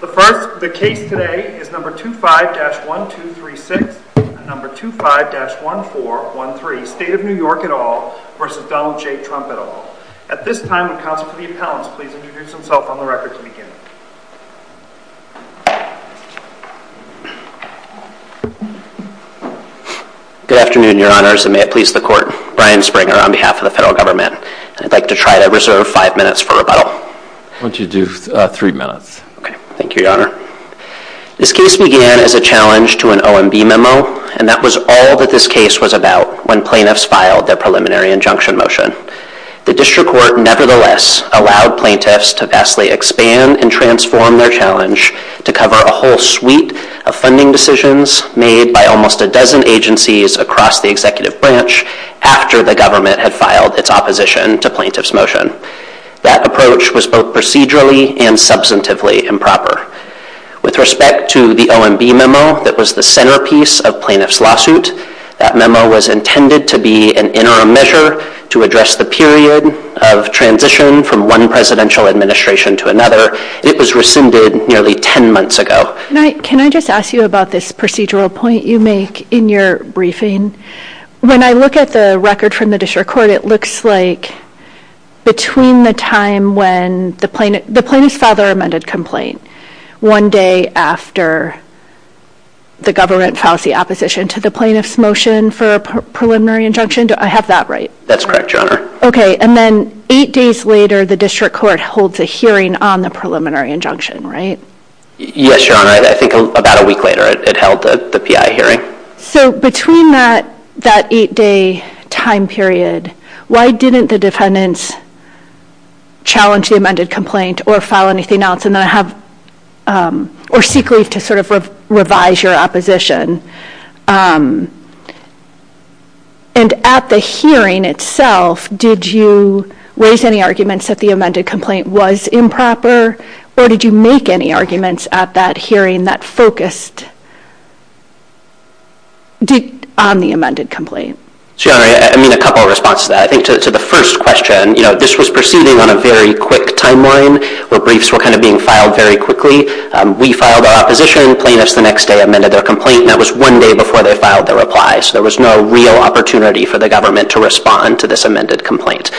The case today is 25-1236 and 25-1413, State of New York et al. v. Donald J. Trump et al. At this time, will counsel Steve Collins please introduce himself on the record to begin. Good afternoon, your honors, and may it please the court. My name is Brian Springer on behalf of the federal government. I'd like to try to reserve five minutes for rebuttal. Why don't you do three minutes. Thank you, your honor. This case began as a challenge to an OMB memo, and that was all that this case was about when plaintiffs filed their preliminary injunction motion. The district court nevertheless allowed plaintiffs to vastly expand and transform their challenge to cover a whole suite of funding decisions made by almost a dozen agencies across the executive branch after the government had filed its opposition to plaintiff's motion. That approach was both procedurally and substantively improper. With respect to the OMB memo that was the centerpiece of plaintiff's lawsuit, that memo was intended to be an interim measure to address the period of transition from one presidential administration to another. It was rescinded nearly ten months ago. Can I just ask you about this procedural point you make in your briefing? When I look at the record from the district court, it looks like between the time when the plaintiff filed their amended complaint, one day after the government filed the opposition to the plaintiff's motion for a preliminary injunction. Do I have that right? That's correct, your honor. Okay, and then eight days later the district court holds a hearing on the preliminary injunction, right? Yes, your honor. I think about a week later it held the PI hearing. So between that eight-day time period, why didn't the defendants challenge the amended complaint or file anything else or seek ways to sort of revise your opposition? And at the hearing itself, did you raise any arguments that the amended complaint was improper or did you make any arguments at that hearing that focused on the amended complaint? Sure, I mean a couple of responses to that. I think to the first question, you know, this was proceeding on a very quick timeline where briefs were kind of being filed very quickly. We filed our opposition, plaintiffs the next day amended their complaint and that was one day before they filed their replies. There was no real opportunity for the government to respond to this amended complaint.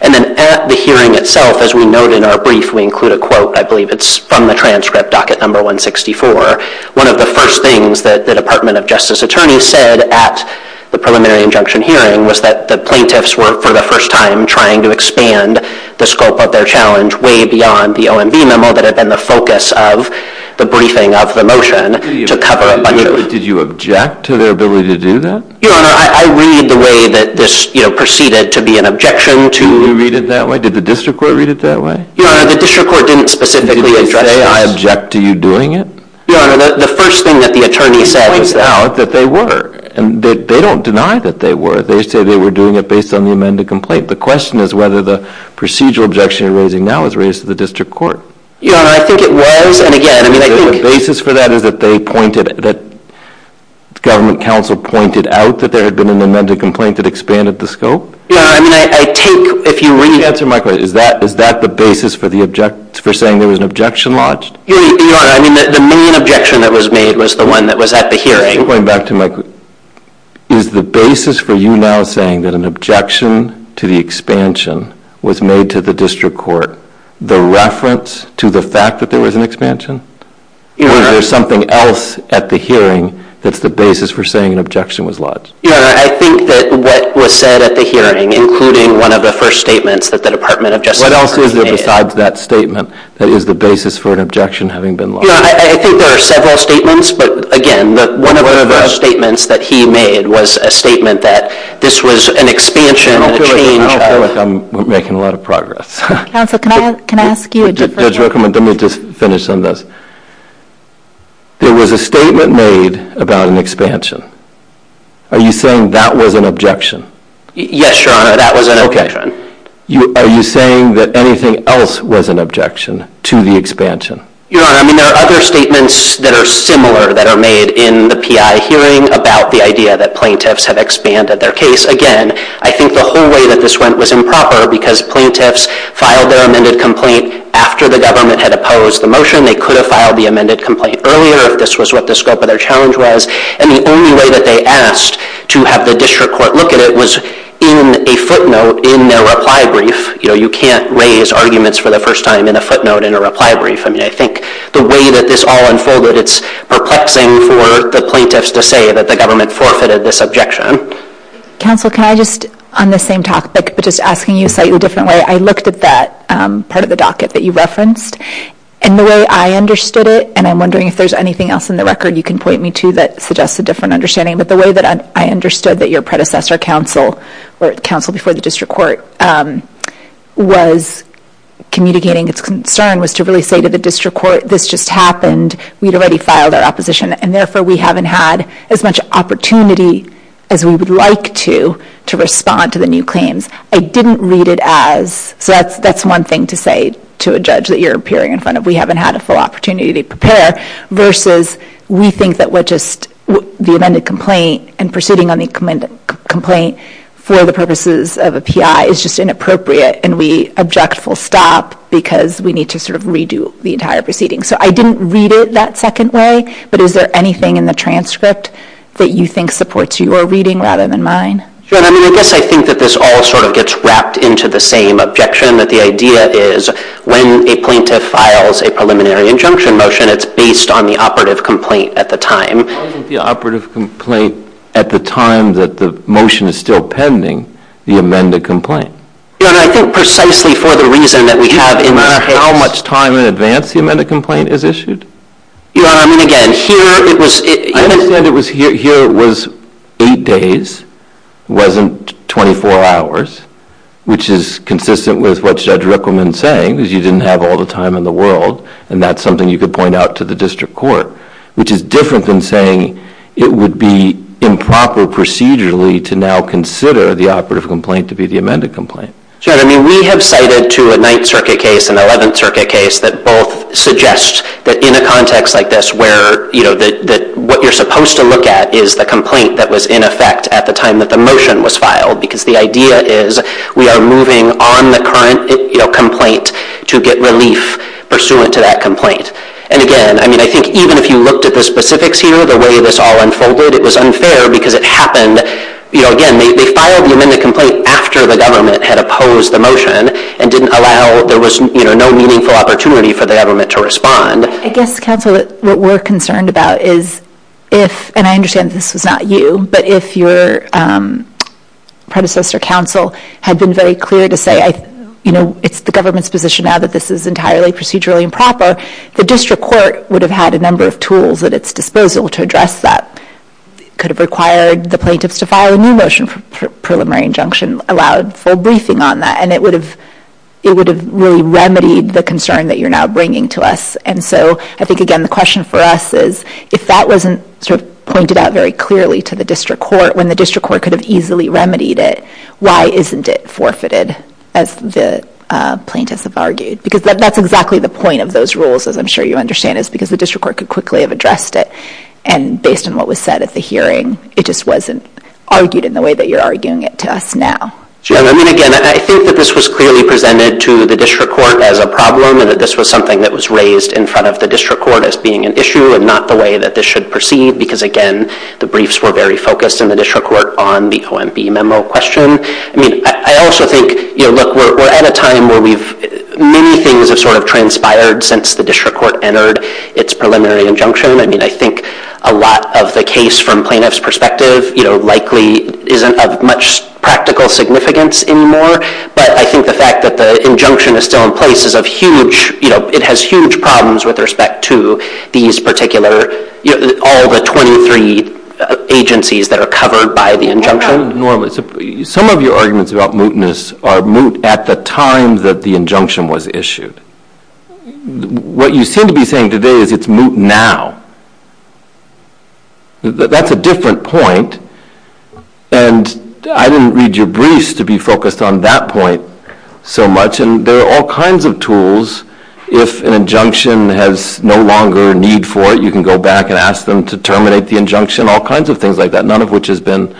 And then at the hearing itself, as we note in our brief, we include a quote. I believe it's from the transcript, docket number 164. One of the first things that the Department of Justice attorney said at the preliminary injunction hearing was that the plaintiffs were, for the first time, trying to expand the scope of their challenge way beyond the OMB memo that had been the focus of the briefing of the motion to cover up a mutiny. Did you object to their ability to do that? Your Honor, I read the way that this, you know, proceeded to be an objection to... You read it that way? Did the district court read it that way? Your Honor, the district court didn't specifically address this. Did they say, I object to you doing it? Your Honor, the first thing that the attorney said was that... I found out that they were. And they don't deny that they were. They said they were doing it based on the amended complaint. The question is whether the procedural objection you're raising now was raised to the district court. Your Honor, I think it was, and again... The basis for that is that they pointed... that government counsel pointed out that there had been an amended complaint that expanded the scope? Yeah, I mean, I think... If you re-answer my question, is that the basis for saying there was an objection lodged? Your Honor, I mean, the main objection that was made was the one that was at the hearing. Going back to my... Is the basis for you now saying that an objection to the expansion was made to the district court the reference to the fact that there was an expansion? Or is there something else at the hearing that's the basis for saying an objection was lodged? Your Honor, I think that what was said at the hearing, including one of the first statements that the Department of Justice made... What else is there besides that statement that is the basis for an objection having been lodged? Your Honor, I think there are several statements. But again, one of the first statements that he made was a statement that this was an expansion... I feel like I'm making a lot of progress. Counsel, can I ask you a different question? Judge Rickman, let me just finish on this. There was a statement made about an expansion. Are you saying that was an objection? Yes, Your Honor, that was an objection. Okay. Are you saying that anything else was an objection to the expansion? Your Honor, I mean, there are other statements that are similar that are made in the PI hearing about the idea that plaintiffs have expanded their case. Again, I think the whole way that this went was improper because plaintiffs filed their amended complaint after the government had opposed the motion. They could have filed the amended complaint earlier. This was what the scope of their challenge was. And the only way that they asked to have the district court look at it was in a footnote in their reply brief. You know, you can't raise arguments for the first time in a footnote in a reply brief. I mean, I think the way that this all unfolded, it's perplexing for the plaintiffs to say that the government forfeited this objection. Counsel, can I just, on the same topic, but just asking you to cite it a different way, I looked at that part of the docket that you referenced, and the way I understood it, and I'm wondering if there's anything else in the record you can point me to that suggests a different understanding, but the way that I understood that your predecessor counsel, or counsel before the district court, was communicating his concern was to really say to the district court, this just happened, we'd already filed our opposition, and therefore we haven't had as much opportunity as we would like to to respond to the new claims. I didn't read it as, so that's one thing to say to a judge that you're appearing in front of, we haven't had a full opportunity to prepare, versus we think that we're just, the amended complaint, and proceeding on the amended complaint for the purposes of a PI is just inappropriate, and we object full stop because we need to redo the entire proceeding. So I didn't read it that second way, but is there anything in the transcript that you think supports your reading rather than mine? I guess I think that this all gets wrapped into the same objection, that the idea is when a plaintiff files a preliminary injunction motion, it's based on the operative complaint at the time. The operative complaint at the time that the motion is still pending, the amended complaint. Yeah, and I think precisely for the reason that we have, no matter how much time in advance the amended complaint is issued. Yeah, I mean again, here it was... I understand it was, here it was eight days, wasn't 24 hours, which is consistent with what Judge Rickleman is saying, because you didn't have all the time in the world, and that's something you could point out to the district court, which is different than saying it would be improper procedurally to now consider the operative complaint to be the amended complaint. Sure, I mean we have cited to a Ninth Circuit case and Eleventh Circuit case that both suggest that in a context like this, where what you're supposed to look at is the complaint that was in effect at the time that the motion was filed, because the idea is we are moving on the current complaint to get relief pursuant to that complaint. And again, I mean I think even if you looked at the specifics here, the way this all unfolded, it was unfair, because it happened, you know, again, they filed the amended complaint after the government had opposed the motion, and didn't allow, there was no meaningful opportunity for the government to respond. I guess, counsel, what we're concerned about is if, and I understand this is not you, but if your predecessor counsel had been very clear to say, you know, it's the government's position now that this is entirely procedurally improper, the district court would have had a number of tools at its disposal to address that, could have required the plaintiffs to file a new motion for preliminary injunction, allowed full briefing on that, and it would have really remedied the concern that you're now bringing to us. And so I think, again, the question for us is, if that wasn't sort of pointed out very clearly to the district court, when the district court could have easily remedied it, why isn't it forfeited, as the plaintiffs have argued? Because that's exactly the point of those rules, as I'm sure you understand, is because the district court could quickly have addressed it, and based on what was said at the hearing, it just wasn't argued in the way that you're arguing it to us now. I mean, again, I think that this was clearly presented to the district court as a problem and that this was something that was raised in front of the district court as being an issue and not the way that this should proceed because, again, the briefs were very focused in the district court on the OMB memo question. I mean, I also think, you know, look, we're at a time where we've, many things have sort of transpired since the district court entered its preliminary injunction. I mean, I think a lot of the case from plaintiff's perspective, you know, likely isn't of much practical significance anymore, but I think the fact that the injunction is still in place is of huge, you know, it has huge problems with respect to these particular, you know, all the 23 agencies that are covered by the injunction. Some of your arguments about mootness are moot at the time that the injunction was issued. What you seem to be saying today is it's moot now. That's a different point, and I didn't read your briefs to be focused on that point so much, and there are all kinds of tools. If an injunction has no longer a need for it, you can go back and ask them to terminate the injunction, all kinds of things like that, none of which has been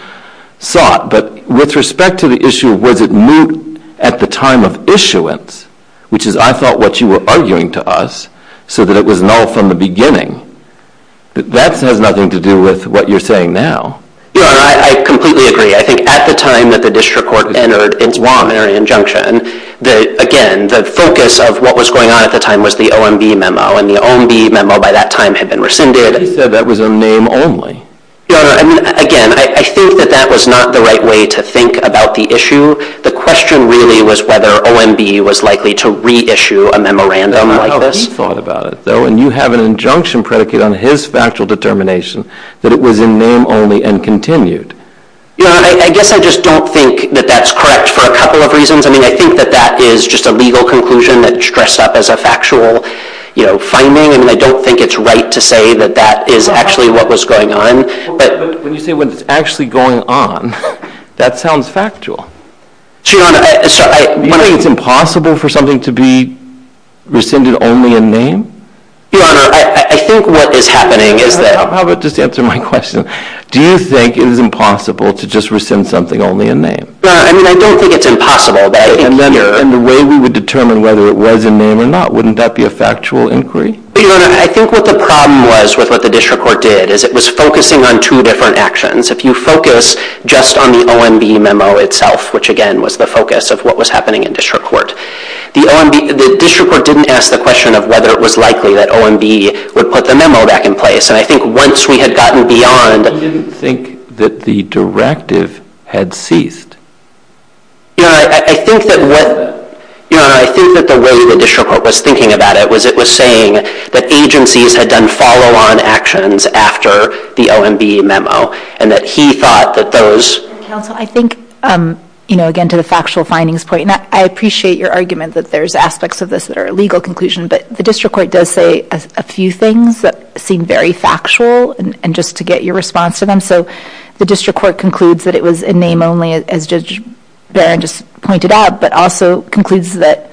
sought. But with respect to the issue of was it moot at the time of issuance, which is I thought what you were arguing to us so that it was null from the beginning, that has nothing to do with what you're saying now. Yeah, I completely agree. I think at the time that the district court entered its preliminary injunction, again, the focus of what was going on at the time was the OMB memo, and the OMB memo by that time had been rescinded. You said that was a name only. Your Honor, again, I think that that was not the right way to think about the issue. The question really was whether OMB was likely to reissue a memorandum like this. I don't know how he thought about it, though, and you have an injunction predicated on his factual determination that it was a name only and continued. Your Honor, I guess I just don't think that that's correct for a couple of reasons. I mean, I think that that is just a legal conclusion that's dressed up as a factual finding, and I don't think it's right to say that that is actually what was going on. When you say what was actually going on, that sounds factual. Your Honor, I'm sorry. You think it's impossible for something to be rescinded only in name? Your Honor, I think what is happening is that— How about you just answer my question. Do you think it is impossible to just rescind something only in name? Your Honor, I mean, I don't think it's impossible. And the way we would determine whether it was a name or not, wouldn't that be a factual inquiry? Your Honor, I think what the problem was with what the district court did is it was focusing on two different actions. If you focus just on the OMB memo itself, which again was the focus of what was happening in district court, the district court didn't ask the question of whether it was likely that OMB would put the memo back in place. And I think once we had gotten beyond— You didn't think that the directive had ceased? Your Honor, I think that what— Your Honor, I think that the way the district court was thinking about it was it was saying that agencies had done follow-on actions after the OMB memo and that he thought that those— Counsel, I think, again, to the factual findings point, and I appreciate your argument that there's aspects of this that are a legal conclusion, but the district court does say a few things that seem very factual, and just to get your response to them. So the district court concludes that it was a name only, as Judge Barron just pointed out, but also concludes that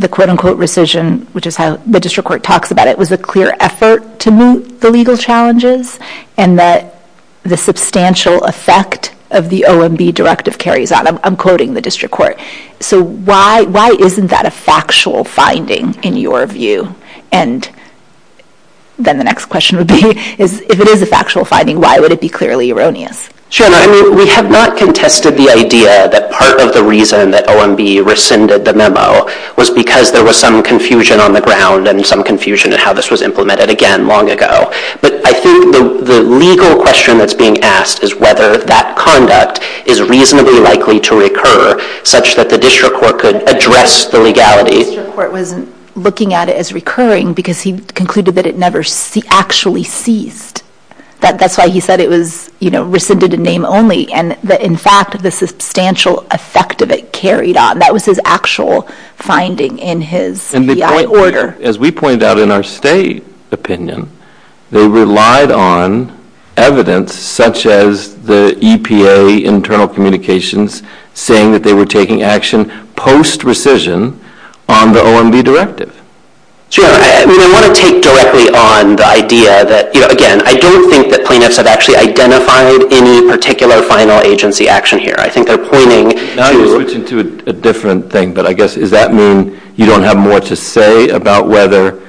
the quote-unquote rescission, which is how the district court talks about it, was a clear effort to meet the legal challenges and that the substantial effect of the OMB directive carries on. I'm quoting the district court. So why isn't that a factual finding in your view? And then the next question would be, if it is a factual finding, why would it be clearly erroneous? Your Honor, I mean, we have not contested the idea that part of the reason that OMB rescinded the memo was because there was some confusion on the ground and some confusion in how this was implemented again long ago. But I think the legal question that's being asked is whether that conduct is reasonably likely to recur such that the district court could address the legality. I think the court was looking at it as recurring because he concluded that it never actually ceased. That's why he said it was rescinded in name only and that in fact the substantial effect of it carried on. That was his actual finding in his order. As we pointed out in our state opinion, they relied on evidence such as the EPA internal communications saying that they were taking action post-rescission on the OMB directive. Your Honor, I want to take directly on the idea that, again, I don't think that plaintiffs have actually identified any particular final agency action here. I think they're pointing to... Now you're switching to a different thing, but I guess does that mean you don't have more to say about whether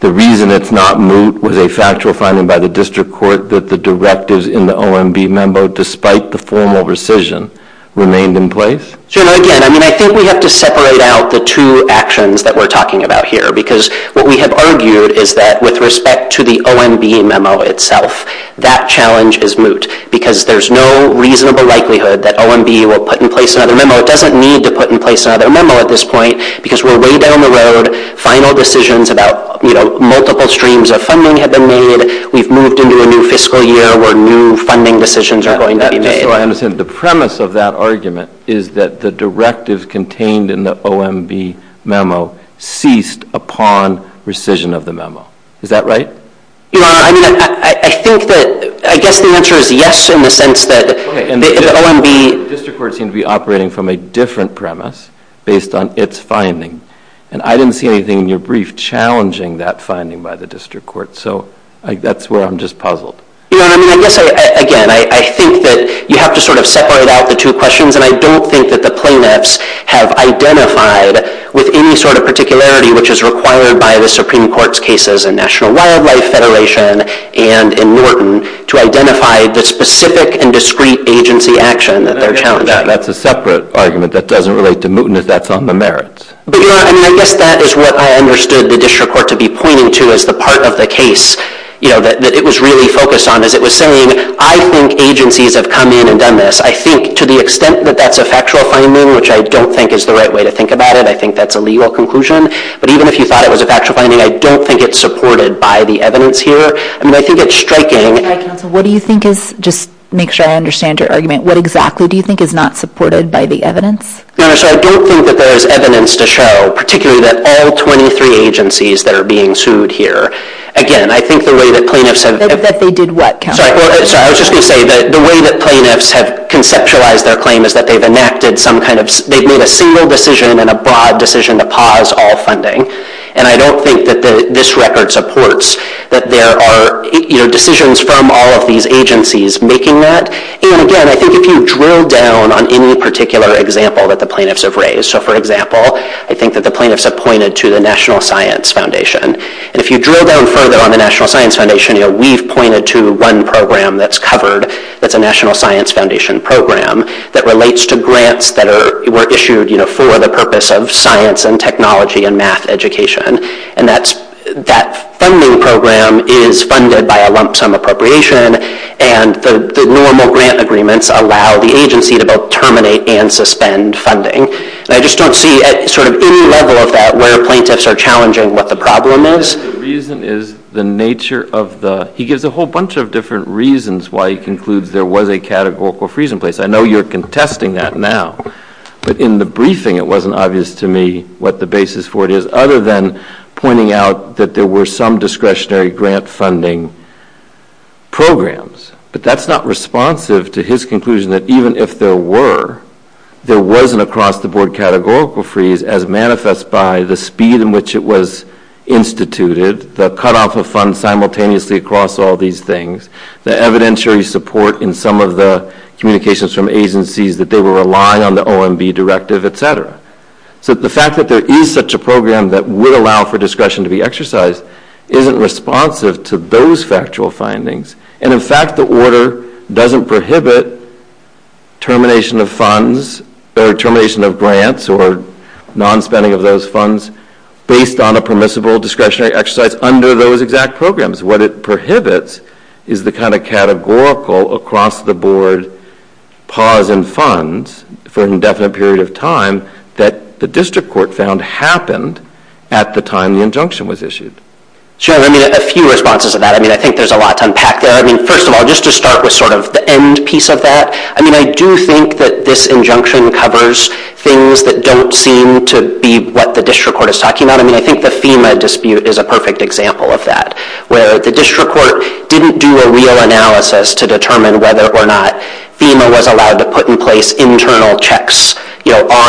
the reason it's not moot was a factual finding by the district court that the directives in the OMB memo, despite the formal rescission, remained in place? Your Honor, again, I think we have to separate out the two actions that we're talking about here because what we have argued is that with respect to the OMB memo itself, that challenge is moot because there's no reasonable likelihood that OMB will put in place another memo. It doesn't need to put in place another memo at this point because we're way down the road. Final decisions about multiple streams of funding have been made. We've moved into a new fiscal year where new funding decisions are going to be made. I understand. The premise of that argument is that the directives contained in the OMB memo ceased upon rescission of the memo. Is that right? Your Honor, I think that... I guess the answer is yes in the sense that the OMB... Okay, and the district court seems to be operating from a different premise based on its finding, and I didn't see anything in your brief challenging that finding by the district court, so that's where I'm just puzzled. Your Honor, I mean, I guess, again, I think that you have to sort of separate out the two questions, and I don't think that the plaintiffs have identified with any sort of particularity which is required by the Supreme Court's cases in National Wildlife Federation and in Norton to identify the specific and discrete agency action that they're challenging. That's a separate argument that doesn't relate to mootness. That's on the merits. But, Your Honor, I mean, I guess that is what I understood the district court to be pointing to as the part of the case, you know, that it was really focused on, as it was saying, I think agencies have come in and done this. I think to the extent that that's a factual finding, which I don't think is the right way to think about it, I think that's a legal conclusion, but even if you thought it was a factual finding, I don't think it's supported by the evidence here. I mean, I think it's striking... What do you think is... Just to make sure I understand your argument, what exactly do you think is not supported by the evidence? Your Honor, so I don't think that there is evidence to show, particularly that all 23 agencies that are being sued here... Again, I think the way that plaintiffs have... That they did what, Counselor? Sorry, I was just going to say, the way that plaintiffs have conceptualized their claim is that they've enacted some kind of... They've made a single decision and a broad decision to pause all funding, and I don't think that this record supports that there are decisions from all of these agencies making that. And, again, I think if you drill down on any particular example that the plaintiffs have raised... So, for example, I think that the plaintiffs have pointed to the National Science Foundation. If you drill down further on the National Science Foundation, we've pointed to one program that's covered with the National Science Foundation program that relates to grants that were issued for the purpose of science and technology and math education. And that funding program is funded by a lump sum appropriation, and the normal grant agreements allow the agency to both terminate and suspend funding. And I just don't see at any level that where the plaintiffs are challenging what the problem is. The reason is the nature of the... He gives a whole bunch of different reasons why he concludes there was a categorical freeze in place. I know you're contesting that now, but in the briefing it wasn't obvious to me what the basis for it is, other than pointing out that there were some discretionary grant funding programs. But that's not responsive to his conclusion that even if there were, there was an across-the-board categorical freeze as manifest by the speed in which it was instituted, the cutoff of funds simultaneously across all these things, the evidentiary support in some of the communications from agencies that they would rely on the OMB directive, et cetera. So the fact that there is such a program that would allow for discretion to be exercised isn't responsive to those factual findings. And in fact, the order doesn't prohibit termination of funds or termination of grants or non-spending of those funds based on a permissible discretionary exercise under those exact programs. What it prohibits is the kind of categorical across-the-board pause in funds for an indefinite period of time that the district court found happened at the time the injunction was issued. Sure. I mean, a few responses to that. I mean, I think there's a lot to unpack there. First of all, just to start with sort of the end piece of that, I mean, I do think that this injunction covers things that don't seem to be what the district court is talking about. I mean, I think the FEMA dispute is a perfect example of that, where the district court didn't do a real analysis to determine whether or not FEMA was allowed to put in place internal checks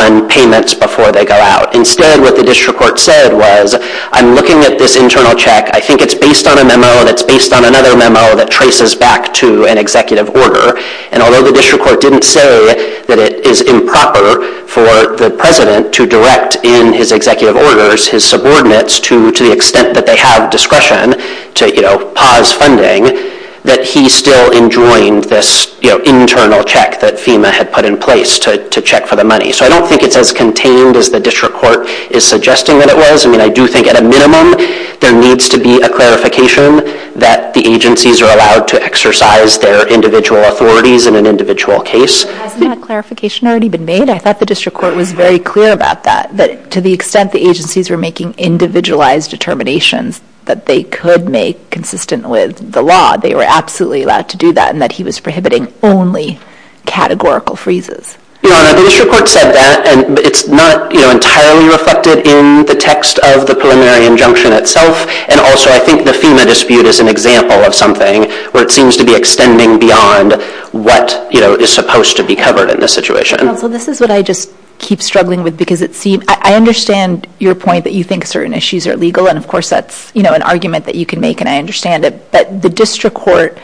on payments before they go out. Instead, what the district court said was, I'm looking at this internal check. I think it's based on a memo that's based on another memo that traces back to an executive order. And although the district court didn't say that it is improper for the president to direct in his executive orders his subordinates to the extent that they have discretion to, you know, pause funding, that he still enjoined this internal check that FEMA had put in place to check for the money. So I don't think it's as contained as the district court is suggesting that it was. I mean, I do think at a minimum, there needs to be a clarification that the agencies are allowed to exercise their individual authorities in an individual case. Hasn't that clarification already been made? I thought the district court was very clear about that, that to the extent the agencies were making individualized determinations that they could make consistent with the law, they were absolutely allowed to do that, and that he was prohibiting only categorical freezes. Your Honor, the district court said that, and it's not, you know, entirely reflected in the text of the preliminary injunction itself. And also, I think the FEMA dispute is an example of something where it seems to be extending beyond what, you know, is supposed to be covered in this situation. Well, this is what I just keep struggling with, because it seems... I understand your point that you think certain issues are legal, and of course that's, you know, an argument that you can make, and I understand it, but the district court,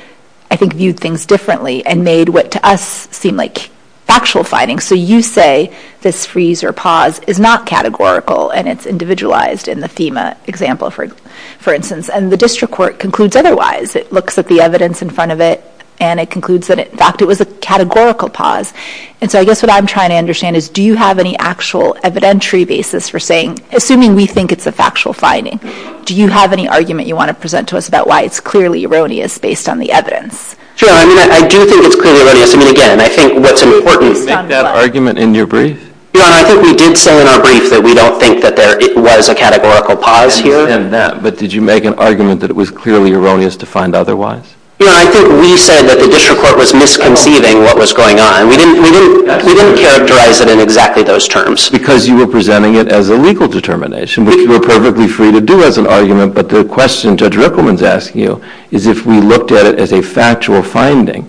I think, viewed things differently and made what to us seemed like factual fighting. So you say this freeze or pause is not categorical, and it's individualized in the FEMA example, for instance, and the district court concludes otherwise. It looks at the evidence in front of it, and it concludes that, in fact, it was a categorical pause. And so I guess what I'm trying to understand is, do you have any actual evidentiary basis for saying, assuming we think it's a factual fighting, do you have any argument you want to present to us about why it's clearly erroneous based on the evidence? Your Honor, I do think it's clearly erroneous. I mean, again, I think what's important... That argument in your brief? Your Honor, I think we did say in our brief that we don't think that there was a categorical pause here. But did you make an argument that it was clearly erroneous to find otherwise? Your Honor, I think we said that the district court was misconceiving what was going on. We didn't characterize it in exactly those terms. Because you were presenting it as a legal determination, which we're perfectly free to do as an argument, but the question Judge Rickleman's asking you is if we looked at it as a factual finding.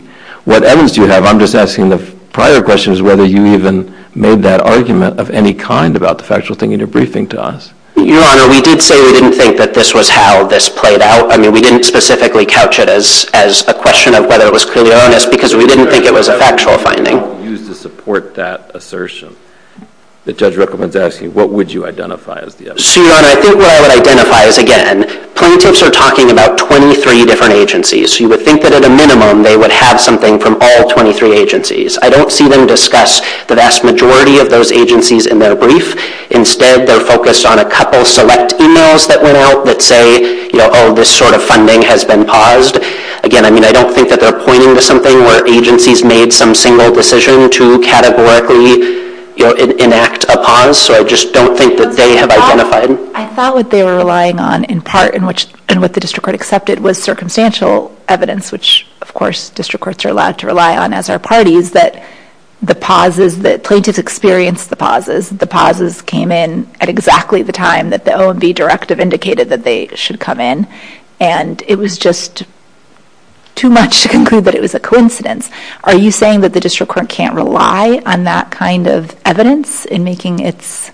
What evidence do you have? I'm just asking the prior questions whether you even made that argument of any kind about the factual thing in your briefing to us. Your Honor, we did say we didn't think that this was how this played out. I mean, we didn't specifically couch it as a question of whether it was clearly erroneous because we didn't think it was a factual finding. You used the support that assertion that Judge Rickleman's asking. What would you identify as the evidence? Your Honor, I think what I would identify is, again, plaintiffs are talking about 23 different agencies. You would think that at a minimum they would have something from all 23 agencies. I don't see them discuss the vast majority of those agencies in their brief. Instead, they're focused on a couple select emails that went out that say, oh, this sort of funding has been paused. Again, I don't think that they're pointing to something where agencies made some single decision to categorically enact a pause, so I just don't think that they have identified... I thought what they were relying on in part and what the district court accepted was circumstantial evidence, which, of course, district courts are allowed to rely on as are parties, that the pauses, that plaintiffs experienced the pauses, came in at exactly the time that the LOD directive indicated that they should come in, and it was just too much to conclude that it was a coincidence. Are you saying that the district court can't rely on that kind of evidence in making its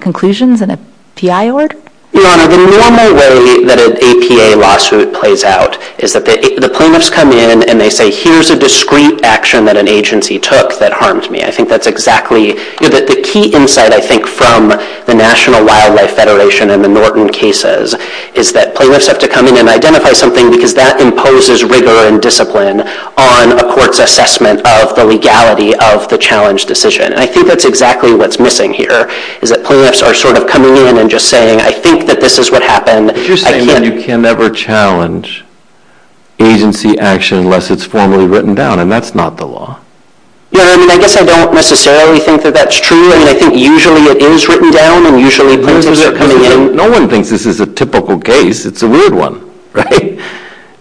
conclusions in a PI order? Your Honor, the normal way that an APA lawsuit plays out is that the plaintiffs come in and they say, here's a discrete action that an agency took that harmed me. I think that's exactly... The key insight, I think, from the National Wildlife Federation and the Norton cases is that plaintiffs have to come in and identify something because that imposes rigor and discipline on a court's assessment of the legality of the challenge decision, and I think that's exactly what's missing here, is that plaintiffs are sort of coming in and just saying, I think that this is what happened. But you're saying you can never challenge agency action unless it's formally written down, and that's not the law. No, I mean, I guess I don't necessarily think that that's true, and I think usually it is written down, and usually plaintiffs are coming in... No one thinks this is a typical case. It's a weird one, right?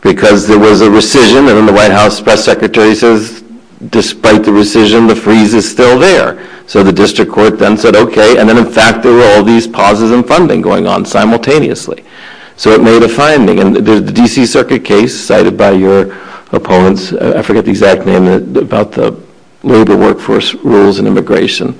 Because there was a rescission, and then the White House press secretary says, despite the rescission, the freeze is still there. So the district court then said, okay, and then, in fact, there were all these pauses in funding going on simultaneously. So it made a finding, and the D.C. Circuit case cited by your opponents, I forget the exact name, about the labor workforce rules and immigration,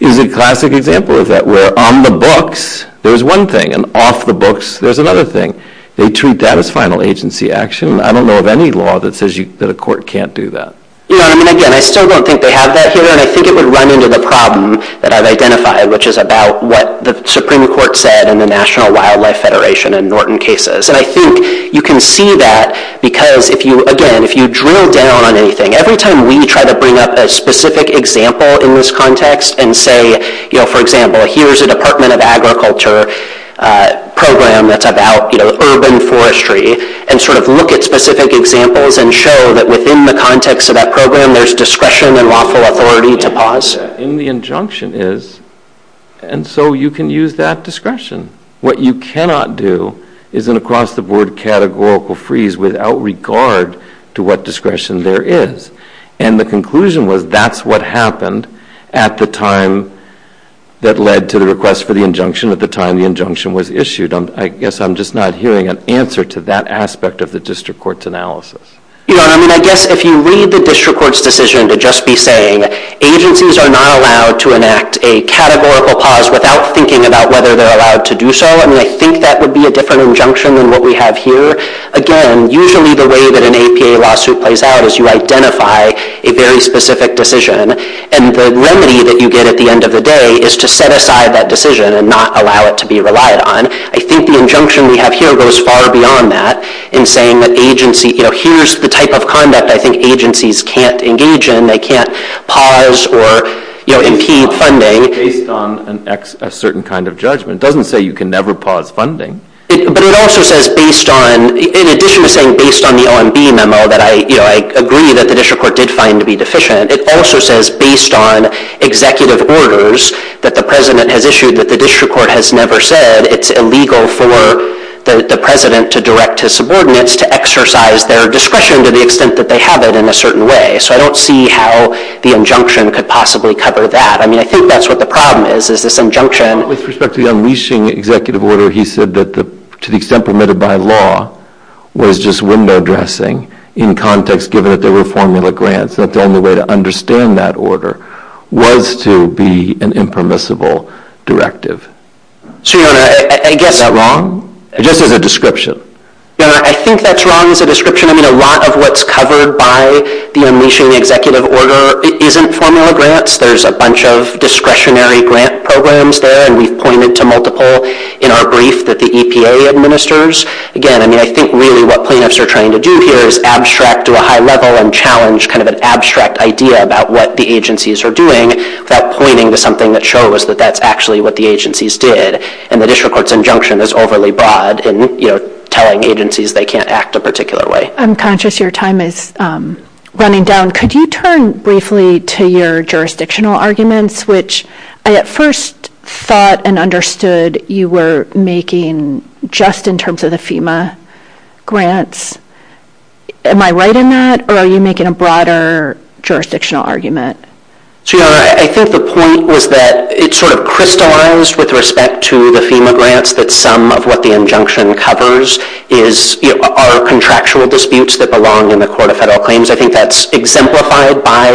is a classic example of that, where on the books there's one thing, and off the books there's another thing. They treat that as final agency action. I don't know of any law that says that a court can't do that. No, I mean, again, I still don't think they have that here, and I think it would run into the problem that I've identified, which is about what the Supreme Court said in the National Wildlife Federation and Norton cases. And I think you can see that because, again, if you drill down on anything, every time we try to bring up a specific example in this context and say, you know, for example, here's a Department of Agriculture program that's about urban forestry, and sort of look at specific examples and show that within the context of that program there's discretion and lawful authority to pause it. And the injunction is, and so you can use that discretion. What you cannot do is an across-the-board categorical freeze without regard to what discretion there is. And the conclusion was that's what happened at the time that led to the request for the injunction at the time the injunction was issued. I guess I'm just not hearing an answer to that aspect of the district court's analysis. Yeah, I mean, I guess if you read the district court's decision to just be saying agencies are not allowed to enact a categorical pause without thinking about whether they're allowed to do so, I mean, I think that would be a different injunction than what we have here. Again, usually the way that an APA lawsuit plays out is you identify a very specific decision, and the remedy that you get at the end of the day is to set aside that decision and not allow it to be relied on. I think the injunction we have here goes far beyond that in saying that agency, you know, here's the type of conduct I think agencies can't engage in. They can't pause or, you know, impede funding. Based on a certain kind of judgment. It doesn't say you can never pause funding. But it also says based on... In addition to saying based on the OMB memo that I agree that the district court did find to be deficient, it also says based on executive orders that the president has issued that the district court has never said it's illegal for the president to direct his subordinates to exercise their discretion to the extent that they haven't in a certain way. So I don't see how the injunction could possibly cover that. I mean, I think that's what the problem is, is this injunction. With respect to the unleashing executive order, he said that to the extent permitted by law was just window dressing in context, given that there were formula grants, that the only way to understand that order was to be an impermissible directive. So, you know, I guess... Is that wrong? I guess it's a description. No, I think that's wrong. It's a description. I mean, a lot of what's covered by the unleashing executive order, it isn't formula grants. There's a bunch of discretionary grant programs there, and we've pointed to multiple in our brief that the EPA administers. Again, I mean, I think really what plaintiffs are trying to do here is abstract to a high level and challenge kind of an abstract idea about what the agencies are doing, not pointing to something that shows that that's actually what the agencies did. And the district court's injunction is overly broad in, you know, telling agencies they can't act a particular way. I'm conscious your time is running down. Could you turn briefly to your jurisdictional arguments, which I at first thought and understood you were making just in terms of the FEMA grants. Am I right in that, or are you making a broader jurisdictional argument? I think the point was that it sort of crystallized with respect to the FEMA grants that some of what the injunction covers are contractual disputes that belong in the court of federal claims. I think that's exemplified by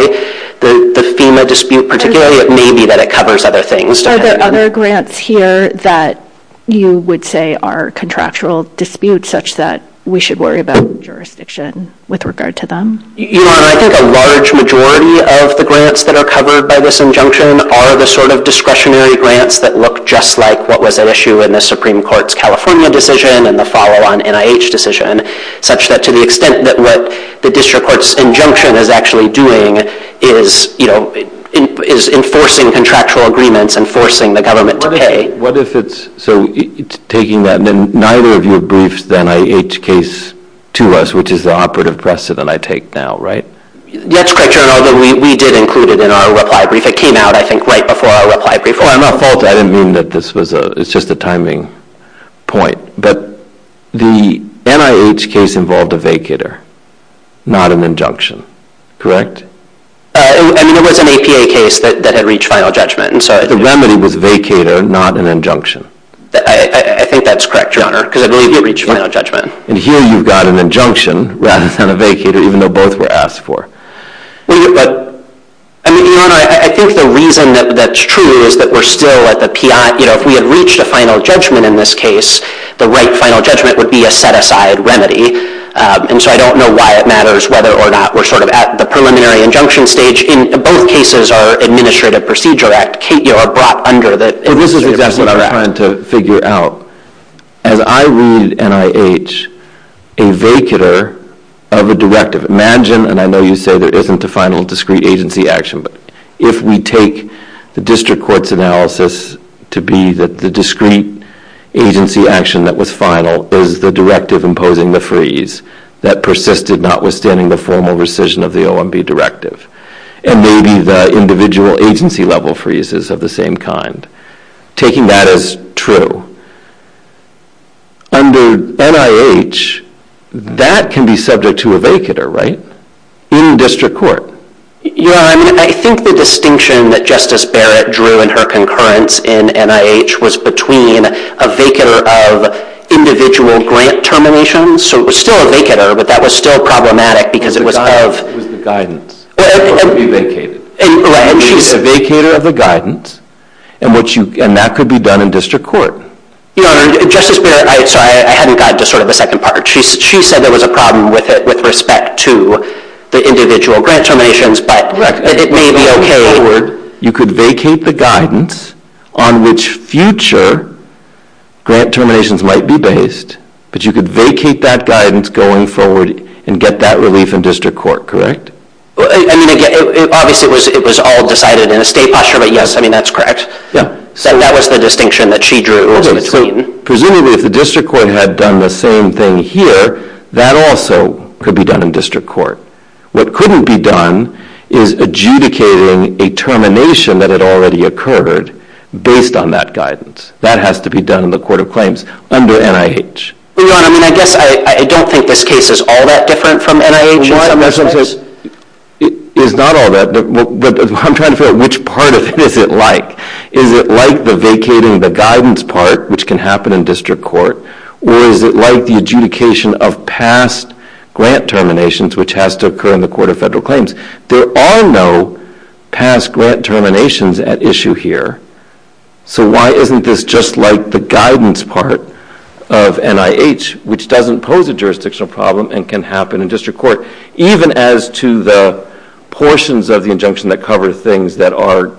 the FEMA dispute, particularly maybe that it covers other things. Are there other grants here that you would say are contractual disputes such that we should worry about jurisdiction with regard to them? I think a large majority of the grants that are covered by this injunction are the sort of discretionary grants that look just like what was at issue in the Supreme Court's California decision and the follow-on NIH decision, such that to the extent that what the district court's injunction is actually doing is enforcing contractual agreements and forcing the government to pay. So it's taking that, and then neither of you have briefed the NIH case to us, which is the operative precedent I take now, right? That's correct, Your Honor. We did include it in our reply brief. It came out, I think, right before our reply brief. I'm not faulted. I didn't mean that this was a... It's just a timing point. But the NIH case involved a vacater, not an injunction, correct? I mean, it was an APA case that had reached final judgment. The remedy was vacater, not an injunction. I think that's correct, Your Honor, because I believe it reached final judgment. And here you've got an injunction rather than a vacater, even though both were asked for. I mean, Your Honor, I think the reason that that's true is that we're still at the... If we had reached a final judgment in this case, the right final judgment would be a set-aside remedy. And so I don't know why it matters whether or not we're sort of at the preliminary injunction stage. In both cases, our administrative procedure act are brought under the... This is exactly what I'm trying to figure out. As I read NIH, in vacater, I have a directive. Imagine, and I know you said there isn't a final discrete agency action, but if we take the district court's analysis to be that the discrete agency action that was final was the directive imposing the freeze that persisted notwithstanding the formal rescission of the OMB directive, and maybe the individual agency-level freezes of the same kind, taking that as true, under NIH, that can be subject to a vacater, right, in district court. Yeah, I mean, I think the distinction that Justice Barrett drew in her concurrence in NIH was between a vacater of individual grant terminations, so it was still a vacater, but that was still problematic because it was of... It was not a vacater of the guidance. It could be vacated. Right. She's a vacater of the guidance, and that could be done in district court. Your Honor, Justice Barrett... Sorry, I hadn't gotten to sort of the second part. She said there was a problem with it with respect to the individual grant terminations, but it may be okay. You could vacate the guidance on which future grant terminations might be based, but you could vacate that guidance going forward and get that relief in district court, correct? Well, I mean, again, obviously it was all decided in a state posture, but, yes, I mean, that's correct. So that was the distinction that she drew. Presumably, if the district court had done the same thing here, that also could be done in district court. What couldn't be done is adjudicating a termination that had already occurred based on that guidance. That has to be done in the court of claims under NIH. Your Honor, I mean, I guess I don't think this case is all that different from NIH. Your Honor, that's because... It's not all that, but I'm trying to figure out which part of this is it like. Is it like the vacating the guidance part, which can happen in district court, or is it like the adjudication of past grant terminations, which has to occur in the court of federal claims? There are no past grant terminations at issue here, so why isn't this just like the guidance part of NIH, which doesn't pose a jurisdictional problem and can happen in district court, even as to the portions of the injunction that cover things that are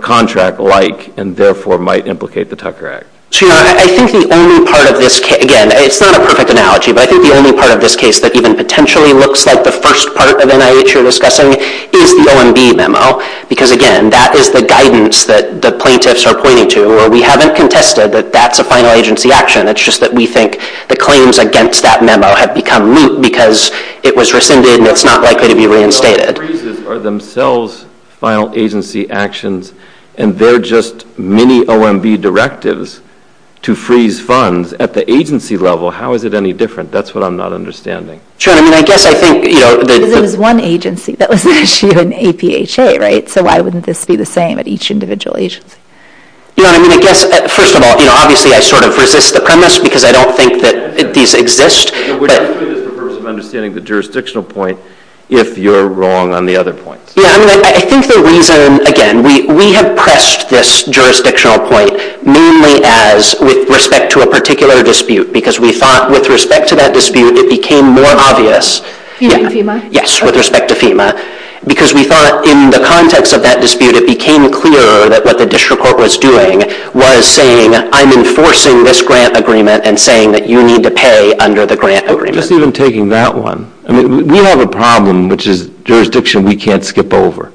contract-like and therefore might implicate the Tucker Act? Your Honor, I think the only part of this case... Again, it's not a perfect analogy, but I think the only part of this case that even potentially looks like the first part of NIH you're discussing is the OMB memo, because, again, that is the guidance that the plaintiffs are pointing to, or we haven't contested that that's a final agency action. It's just that we think the claims against that memo have become moot because it was rescinded and it's not likely to be reinstated. Well, I'm afraid these are themselves final agency actions, and they're just mini-OMB directives to freeze funds at the agency level. How is it any different? That's what I'm not understanding. Sure, I mean, I guess I think... So this is one agency that was issued an APHA, right? So why wouldn't this be the same at each individual agency? You know what I mean? I guess, first of all, you know, obviously I sort of resist the premise because I don't think that these exist, but... Would you resist the purpose of understanding the jurisdictional point if you're wrong on the other point? Yeah, I mean, I think the reason, again, we have pressed this jurisdictional point mainly as with respect to a particular dispute because we thought with respect to that dispute it became more obvious... FEMA and FEMA? Yes, with respect to FEMA, because we thought in the context of that dispute it became clearer that what the district court was doing was saying, I'm enforcing this grant agreement and saying that you need to pay under the grant agreement. Let's leave them taking that one. I mean, we have a problem, which is jurisdiction we can't skip over.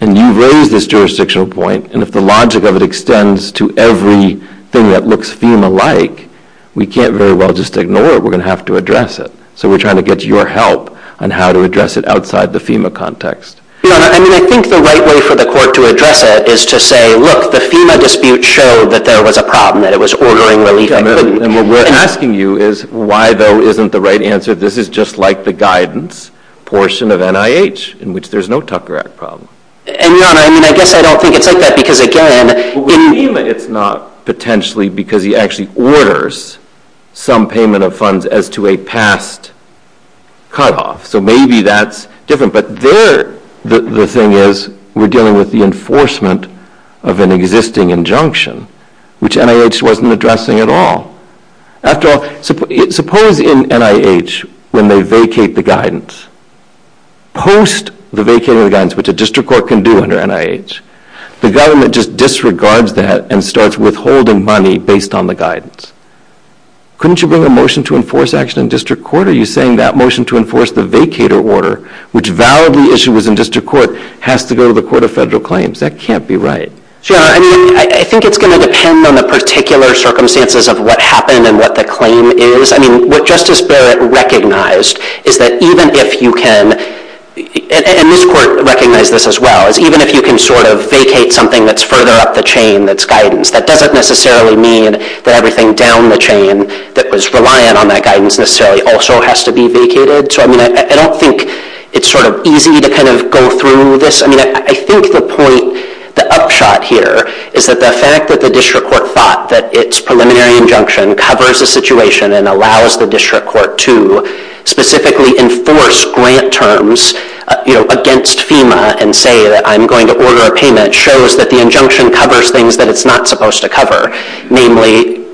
And you raise this jurisdictional point, and if the logic of it extends to everything that looks FEMA-like, we can't very well just ignore it. We're going to have to address it. So we're trying to get your help on how to address it outside the FEMA context. I mean, I think the right way for the court to address it is to say, look, the FEMA dispute showed that there was a problem, that it was ordering relief... And what we're asking you is, why, though, isn't the right answer, this is just like the guidance portion of NIH in which there's no Tucker Act problem? And, Your Honor, I mean, I guess I don't think it's like that because, again, in FEMA, it's not potentially because he actually orders some payment of funds as to a past cutoff. So maybe that's different. But the thing is, we're dealing with the enforcement of an existing injunction, which NIH wasn't addressing at all. After all, suppose in NIH, when they vacate the guidance, post the vacating the guidance, which a district court can do under NIH, the government just disregards that and starts withholding money based on the guidance. Couldn't you bring a motion to enforce action in district court? Are you saying that motion to enforce the vacator order, which validly issues in district court, has to go to the Court of Federal Claims? That can't be right. Your Honor, I mean, I think it's going to depend on the particular circumstances of what happened and what the claim is. I mean, what Justice Barrett recognized is that even if you can... And this court recognized this as well. Even if you can sort of vacate something that's further up the chain that's guidance, that doesn't necessarily mean that everything down the chain that was reliant on that guidance necessarily also has to be vacated. So I mean, I don't think it's sort of easy to kind of go through this. I mean, I think the point, the upshot here, is that the fact that the district court thought that its preliminary injunction covers the situation and allows the district court to specifically enforce grant terms against FEMA and say that I'm going to order a payment shows that the injunction covers things that it's not supposed to cover, namely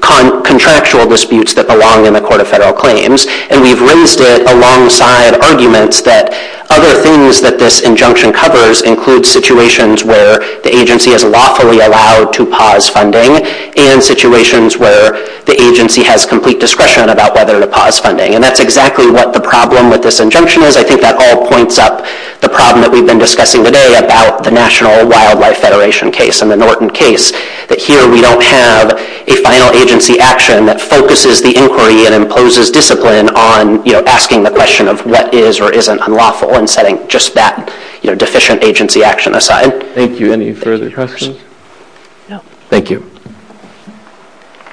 contractual disputes that belong in the Court of Federal Claims. And we've raised it alongside arguments that other things that this injunction covers include situations where the agency is lawfully allowed to pause funding and situations where the agency has complete discretion about whether to pause funding. And that's exactly what the problem with this injunction is. So I think that all points up the problem that we've been discussing today about the National Wildlife Federation case and the Norton case, that here we don't have a final agency action that focuses the inquiry and imposes discipline on asking the question of what is or isn't unlawful and setting just that deficient agency action aside. Thank you. Any further questions? No. Thank you.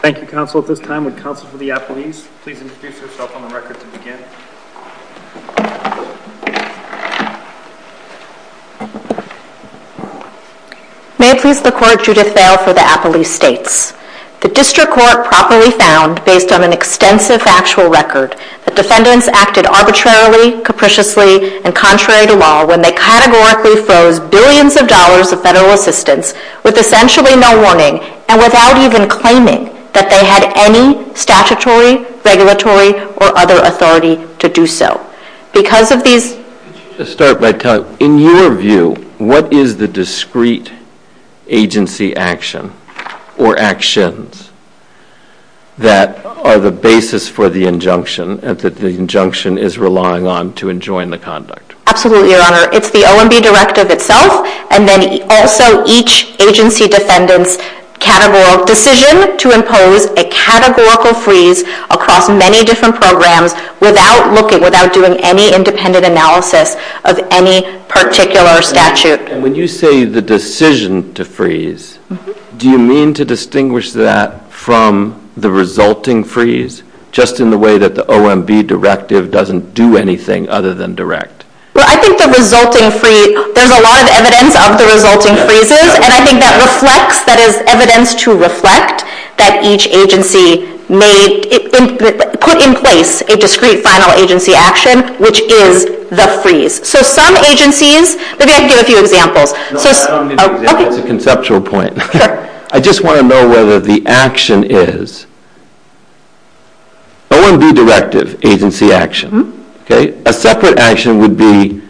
Thank you, counsel. At this time, would counsel for the athletes please introduce yourself on the record to begin. May it please the Court, Judith Bale for the athletes' states. The district court properly found, based on an extensive factual record, that defendants acted arbitrarily, capriciously, and contrary to law when they categorically froze billions of dollars of federal assistance with essentially no warning and without even claiming that they had any statutory, regulatory, or other authority to do so. Because of these... Let's start by telling... In your view, what is the discrete agency action or actions that are the basis for the injunction that the injunction is relying on to enjoin the conduct? Absolutely, Your Honor. It's the OMB directive itself and then also each agency defendant's categorical decision to impose a categorical freeze across many different programs without doing any independent analysis of any particular statute. When you say the decision to freeze, do you mean to distinguish that from the resulting freeze just in the way that the OMB directive doesn't do anything other than direct? Well, I think the resulting freeze... There's a lot of evidence of the resulting freezes, and I think that reflects... That is evidence to reflect that each agency may put in place a discrete final agency action, which is the freeze. So some agencies... Maybe I can give a few examples. No, I don't need an example. It's a conceptual point. I just want to know whether the action is... OMB directive agency action. A separate action would be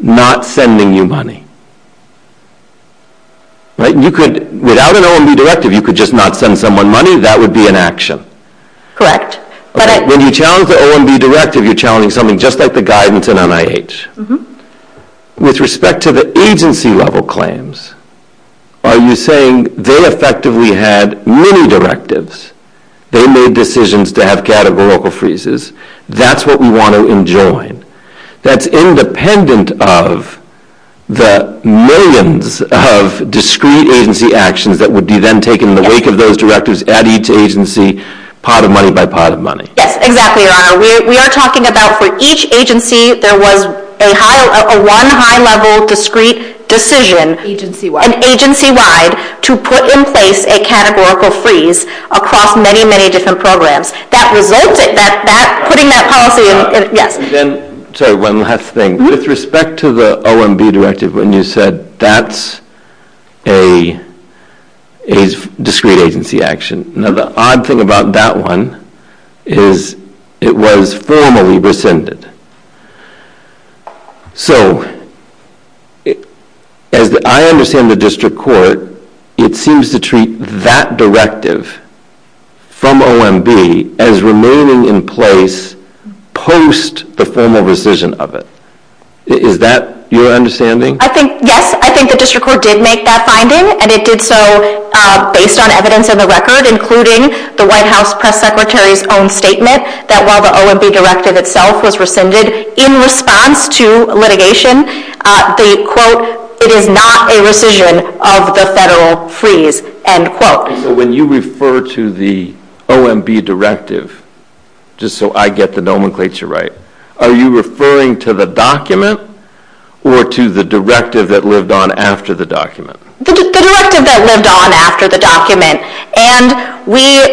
not sending you money. Without an OMB directive, you could just not send someone money. That would be an action. Correct. When you challenge the OMB directive, you're challenging something just like the guidance in NIH. With respect to the agency-level claims, are you saying they effectively had many directives? They made decisions to have categorical freezes. That's what we want to enjoy. That's independent of the millions of discrete agency actions that would be then taken in the wake of those directives at each agency, pot of money by pot of money. Yes, exactly. We are talking about for each agency, there was one high-level discrete decision, agency-wide, to put in place a categorical freeze across many, many different programs. Putting that policy... One last thing. With respect to the OMB directive, when you said that's a discrete agency action, the odd thing about that one is it was formally rescinded. As I understand the district court, it seems to treat that directive from OMB as remaining in place post the formal rescission of it. Is that your understanding? Yes, I think the district court did make that finding, and it did so based on evidence of the record, including the White House press secretary's own statement that while the OMB directive itself was rescinded, in response to litigation, they quote, it is not a rescission of the federal freeze, end quote. When you refer to the OMB directive, just so I get the nomenclature right, are you referring to the document or to the directive that lived on after the document? The directive that lived on after the document. And we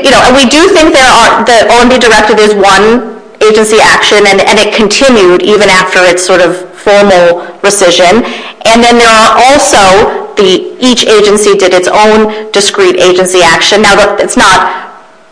do think the OMB directive is one agency action, and it continued even after its formal rescission. And then there are also each agency did its own discrete agency action. Now,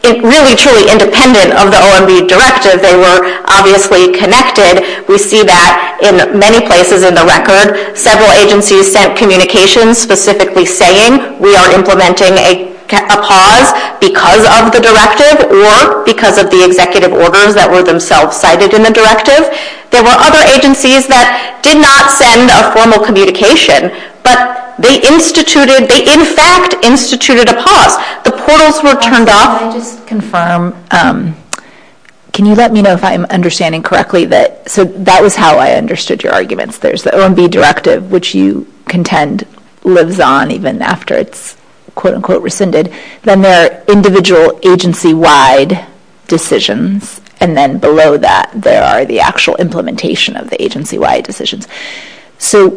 it's really truly independent of the OMB directive. They were obviously connected. We see that in many places in the record. Several agencies sent communications specifically saying we are implementing a pause because of the directive or because of the executive orders that were themselves cited in the directive. There were other agencies that did not send a formal communication, but they instituted, they in fact instituted a pause. The portals were turned off. I'll just confirm. Can you let me know if I'm understanding correctly that that was how I understood your arguments. There's the OMB directive, which you contend lives on even after it's quote, unquote, rescinded. Then there are individual agency-wide decisions. And then below that, there are the actual implementation of the agency-wide decisions. So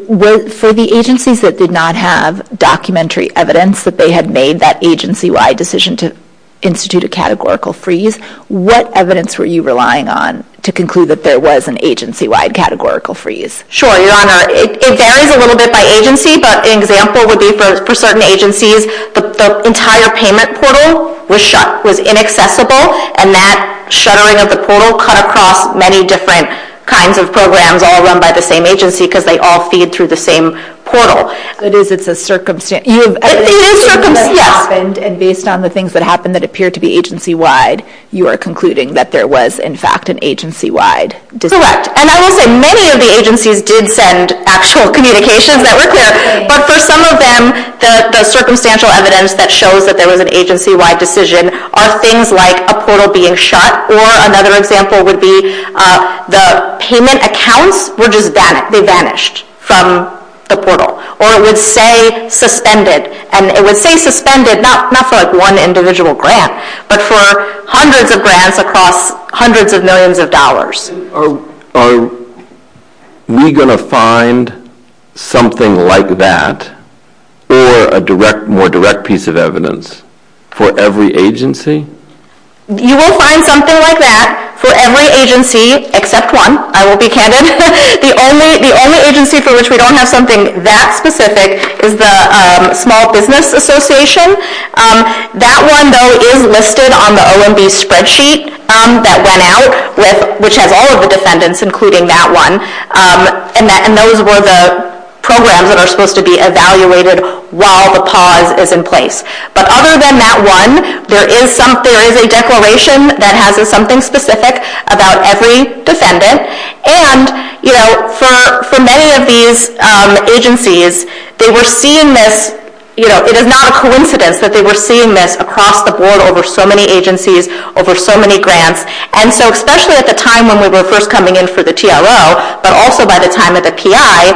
for the agencies that did not have documentary evidence that they had made that agency-wide decision to institute a categorical freeze, what evidence were you relying on to conclude that there was an agency-wide categorical freeze? Sure, Your Honor. It varies a little bit by agency, but an example would be for certain agencies, the entire payment portal was shut, was inaccessible, and that shuttering of the portal cut across many different kinds of programs, all run by the same agency because they all feed through the same portal. It is a circumstance. It is a circumstance, yeah. And based on the things that happened that appeared to be agency-wide, you are concluding that there was, in fact, an agency-wide decision. Correct. And I will say many of the agencies did send actual communications that were there, but for some of them, the circumstantial evidence that shows that there was an agency-wide decision are things like a portal being shut, or another example would be the payment accounts were just banished from the portal, or it would say suspended, and it would say suspended not for one individual grant, but for hundreds of grants across hundreds of millions of dollars. Are we going to find something like that or a more direct piece of evidence for every agency? You will find something like that for every agency except one. I will be candid. The only agency for which we don't have something that specific is the Small Business Association. That one, though, is listed on the OMB spreadsheet that went out, which has all of the defendants, including that one, and those were the programs that are supposed to be evaluated while the pause is in place. But other than that one, there is a declaration that has something specific about every defendant, and for many of these agencies, they were seeing this. It is not a coincidence that they were seeing this across the board over so many agencies, over so many grants. And so, especially at the time when we were first coming in for the TRO, but also by the time of the PI,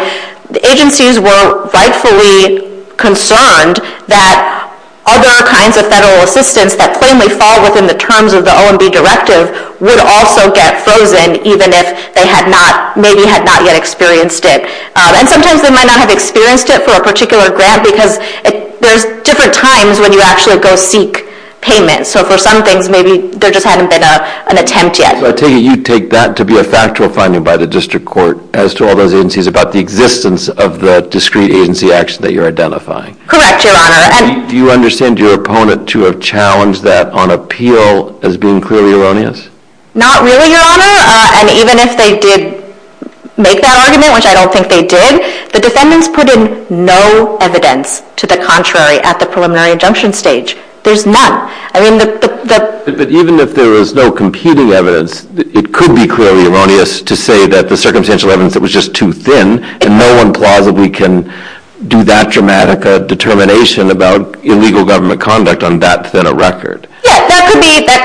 the agencies were rightfully concerned that other kinds of federal assistance that plainly fall within the terms of the OMB directive would also get frozen, even if they maybe had not yet experienced it. And sometimes they might not have experienced it for a particular grant because there are different times when you actually go seek payment. So for some things, maybe there just hasn't been an attempt yet. So you take that to be a factual finding by the district court as to all those agencies about the existence of the discrete agency action that you're identifying? Correct, Your Honor. Do you understand your opponent to have challenged that on appeal as being clearly erroneous? Not really, Your Honor. And even if they did make that argument, which I don't think they did, the defendants put in no evidence to the contrary at the preliminary injunction stage. There's none. But even if there is no competing evidence, it could be clearly erroneous to say that the circumstantial evidence that was just too thin, and no one plausibly can do that dramatic a determination about illegal government conduct on that Senate record. Yes, that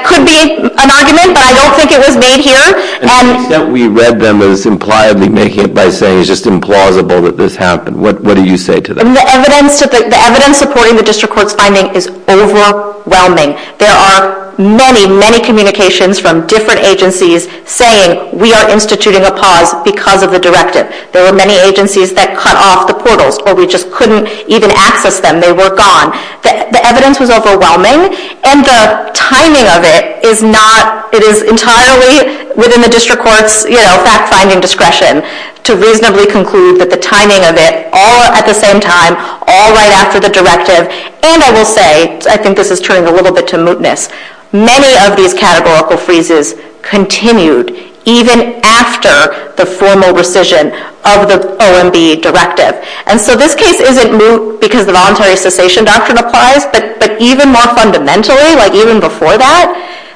could be an argument, but I don't think it was made here. And to the extent we read them as impliably making it by saying it's just implausible that this happened, what do you say to that? The evidence reported in the district court's finding is overwhelming. There are many, many communications from different agencies saying we are instituting a pause because of the directive. There were many agencies that cut off the portals where we just couldn't even access them. They were gone. The evidence is overwhelming, and the timing of it is not, it is entirely within the district court's, you know, fact-finding discretion to reasonably conclude that the timing of it all at the same time, all right after the directive, and I will say, I think this has turned a little bit to mootness, many of these categorical freezes continued even after the formal rescission of the OMB directive. And so this case isn't moot because the voluntary cessation doctrine applies, but even more fundamentally, like even before that,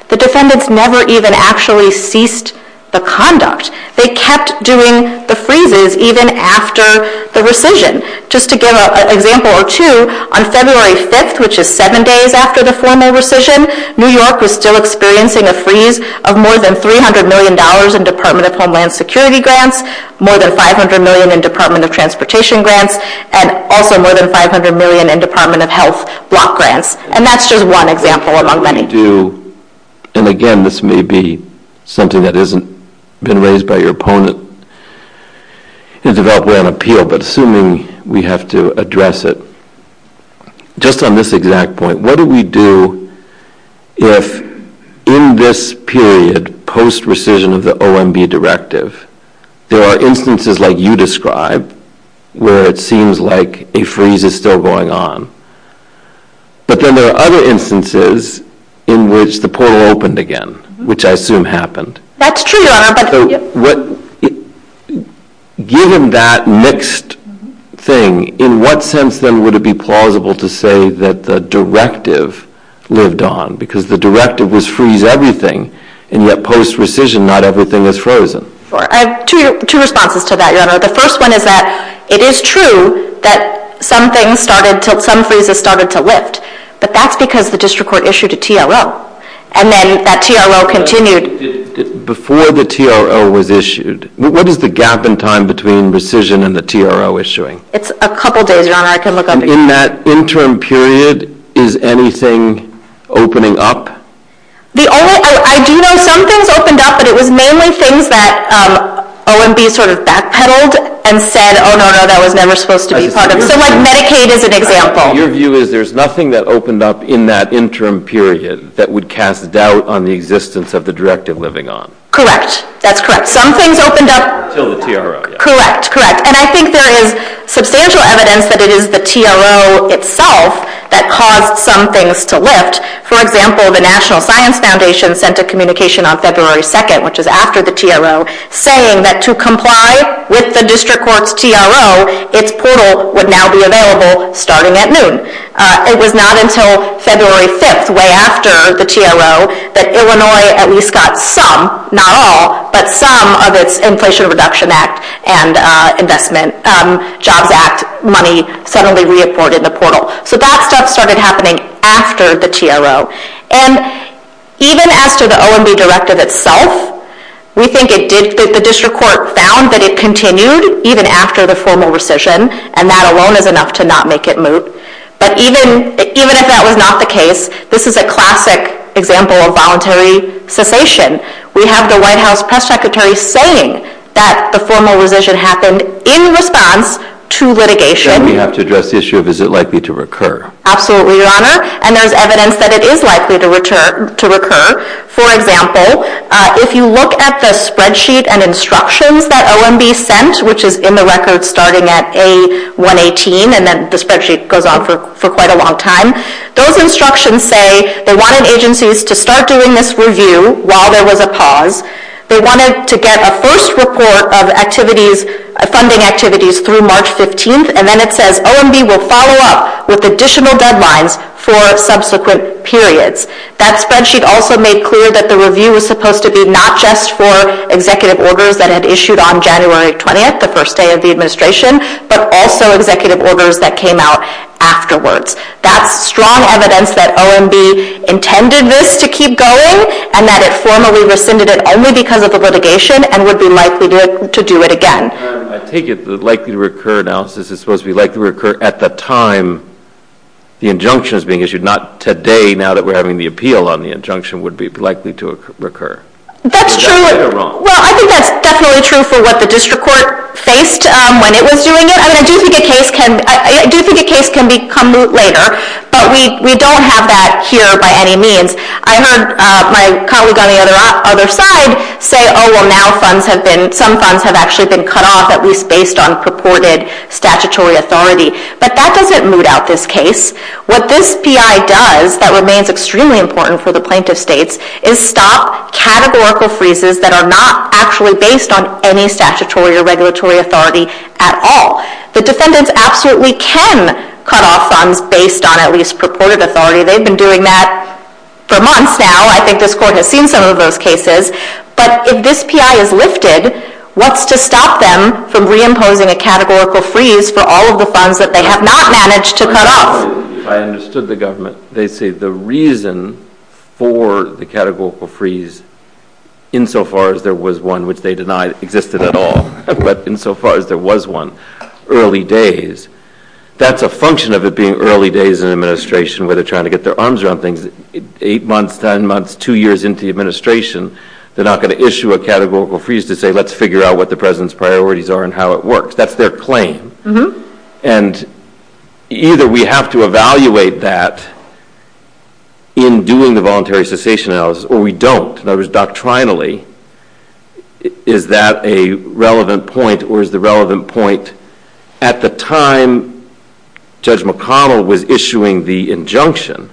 the defendants never even actually ceased the conduct. They kept doing the freezes even after the rescission. Just to give an example or two, on February 5th, which is 7 days after the formal rescission, New York was still experiencing a freeze of more than $300 million in Department of Homeland Security grants, more than $500 million in Department of Transportation grants, and also more than $500 million in Department of Health block grants. And that's just one example among many. And again, this may be something that hasn't been raised by your opponent, in development and appeal, but assuming we have to address it. Just on this exact point, what do we do if in this period post-rescission of the OMB directive there are instances like you described where it seems like a freeze is still going on, but then there are other instances in which the portal opened again, which I assume happened. That's true, Your Honor. Given that mixed thing, in what sense then would it be plausible to say that the directive lived on? Because the directive was freeze everything, and yet post-rescission not everything is frozen. I have two responses to that, Your Honor. The first one is that it is true that some freezes started to lift, but that's because the district court issued a TLO, and then that TLO continued. Before the TLO was issued, what is the gap in time between rescission and the TLO issuing? It's a couple days, Your Honor. In that interim period, is anything opening up? I do know some things opened up, but it was mainly things that OMB backpedaled and said that was never supposed to be part of it. Medicaid is an example. Your view is there's nothing that opened up in that interim period that would cast doubt on the existence of the directive living on. Correct. That's correct. Some things opened up. Until the TRO. Correct, correct. And I think there is substantial evidence that it is the TRO itself that caused some things to lift. For example, the National Science Foundation sent a communication on February 2nd, which is after the TRO, saying that to comply with the district court's TRO, its approval would now be available starting at noon. It was not until February 6th, way after the TRO, that Illinois at least got some, not all, but some of the Inflation Reduction Act and Investment Jobs Act money suddenly reafforded the portal. So that stuff started happening after the TRO. And even after the OMB directive itself, we think the district court found that it continued even after the formal rescission, and that alone is enough to not make it move. But even if that was not the case, this is a classic example of voluntary cessation. We have the White House Press Secretary saying that the formal rescission happened in response to litigation. And we have to address the issue of is it likely to recur. Absolutely, Your Honor. And there is evidence that it is likely to recur. For example, if you look at the spreadsheet and instructions that OMB sent, which is in the record starting at A118, and then the spreadsheet goes on for quite a long time, those instructions say they wanted agencies to start doing this review while there was a pause. They wanted to get a first report of activities, funding activities through March 15th. And then it says OMB will follow up with additional deadlines for subsequent periods. That spreadsheet also made clear that the review was supposed to be not just for executive orders that had issued on January 20th, the first day of the administration, but also executive orders that came out afterwards. That's strong evidence that OMB intended this to keep going and that it formally rescinded it only because of the litigation and would be likely to do it again. I take it the likely to recur analysis is supposed to be likely to recur at the time the injunction is being issued, not today now that we're having the appeal on the injunction would be likely to recur. That's true. Well, I think that's definitely true for what the district court faced when it was doing it. I do think a case can become moot later, but we don't have that here by any means. I heard my colleagues on the other side say, oh, well, now some funds have actually been cut off at least based on purported statutory authority. But that doesn't moot out this case. What this PI does that remains extremely important for the plaintiff states is stop categorical freezes that are not actually based on any statutory or regulatory authority at all. The defendants absolutely can cut off funds based on at least purported authority. They've been doing that for months now. I think this court has seen some of those cases. But if this PI is lifted, what's to stop them from reimposing a categorical freeze for all of the funds that they have not managed to cut off? I understood the government. They say the reason for the categorical freeze, insofar as there was one which they denied existed at all, but insofar as there was one early days, that's a function of it being early days in an administration where they're trying to get their arms around things. Eight months, ten months, two years into the administration, they're not going to issue a categorical freeze to say, let's figure out what the president's priorities are and how it works. That's their claim. And either we have to evaluate that in doing the voluntary cessation analysis, or we don't. Doctrinally, is that a relevant point, or is the relevant point, at the time Judge McConnell was issuing the injunction,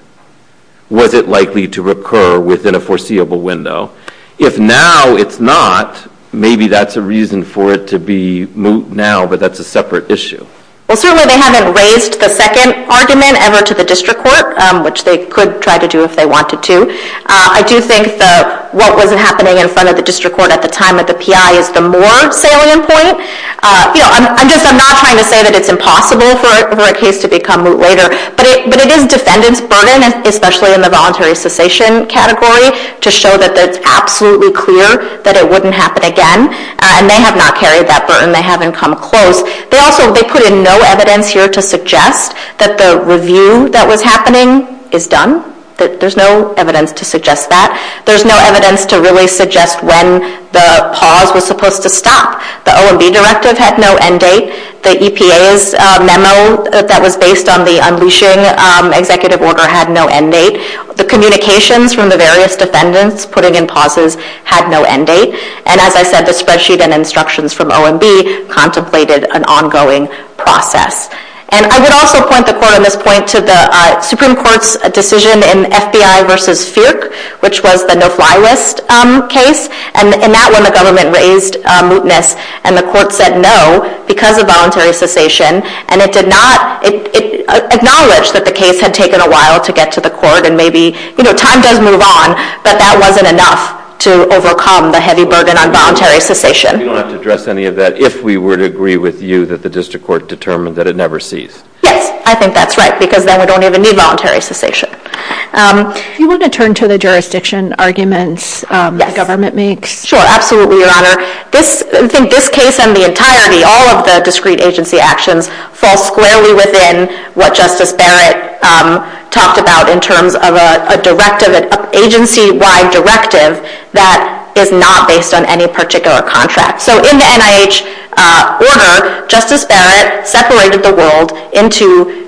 was it likely to recur within a foreseeable window? If now it's not, maybe that's a reason for it to be moot now, but that's a separate issue. Well, certainly they haven't raised the second argument ever to the district court, which they could try to do if they wanted to. I do think that what was happening in front of the district court at the time of the PI is the more salient point. I'm not trying to say that it's impossible for a case to become moot later, but it is a defendant's burden, especially in the voluntary cessation category, to show that it's absolutely clear that it wouldn't happen again. And they have not carried that burden. They haven't come close. But also, they put in no evidence here to suggest that the review that was happening is done, that there's no evidence to suggest that. There's no evidence to really suggest when the pause was supposed to stop. The OMB directive had no end date. The EPA's memo that was based on the unleashing executive order had no end date. The communications from the various defendants putting in pauses had no end date. And as I said, the spreadsheet and instructions from OMB contemplated an ongoing process. And I would also point the court on this point to the Supreme Court's decision in FBI v. Searc, which was the no-fly list case. And in that one, the government raised mootness, and the court said no because of voluntary cessation. And it acknowledged that the case had taken a while to get to the court and maybe time does move on, but that wasn't enough to overcome the heavy burden on voluntary cessation. Do you want to address any of that if we were to agree with you that the district court determined that it never ceased? Yes, I think that's right, because then we don't even need voluntary cessation. Do you want to turn to the jurisdiction arguments that government makes? Sure, absolutely, Your Honor. In this case and the entirety, all of the discrete agency actions fall squarely within what Justice Barrett talked about in terms of an agency-wide directive that is not based on any particular contract. So in the NIH order, Justice Barrett separated the world into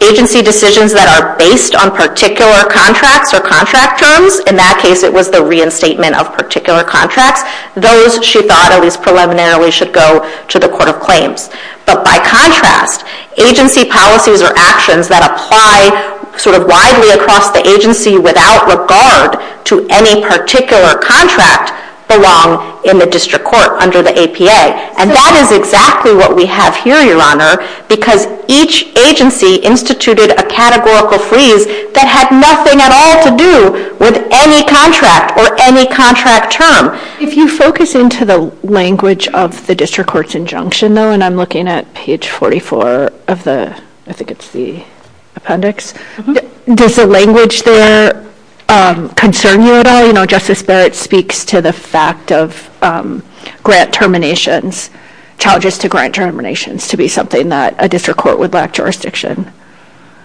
agency decisions that are based on particular contracts or contract terms. In that case, it was the reinstatement of particular contracts. Those, she thought, at least preliminarily, should go to the Court of Claims. But by contract, agency policies or actions that apply sort of widely across the agency without regard to any particular contract belong in the district court under the APA. And that is exactly what we have here, Your Honor, because each agency instituted a categorical freeze that had nothing at all to do with any contract or any contract term. If you focus into the language of the district court's injunction, though, and I'm looking at page 44 of the appendix, does the language there concern you at all? You know, Justice Barrett speaks to the fact of grant terminations, charges to grant terminations, to be something that a district court would lack jurisdiction.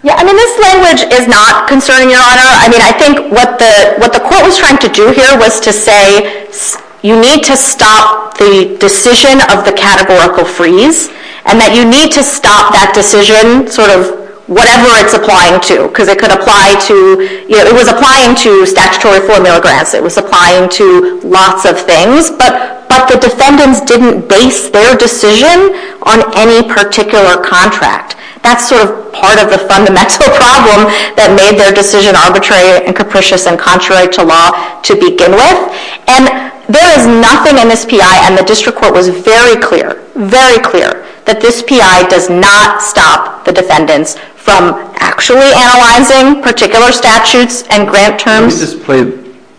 Yeah, I mean, this language is not concerning, Your Honor. I mean, I think what the court was trying to do here was to say you need to stop the decision of the categorical freeze and that you need to stop that decision, sort of whatever it's applying to, because it could apply to, you know, it was applying to statutory formula grants, it was applying to lots of things, but the defendants didn't base their decision on any particular contract. That's sort of part of the fundamental problem that made their decision arbitrary and capricious and contrary to law to begin with. And there is nothing in this PI, and the district court was very clear, very clear, that this PI does not stop the defendants from actually analyzing particular statutes and grant terms. Let me just play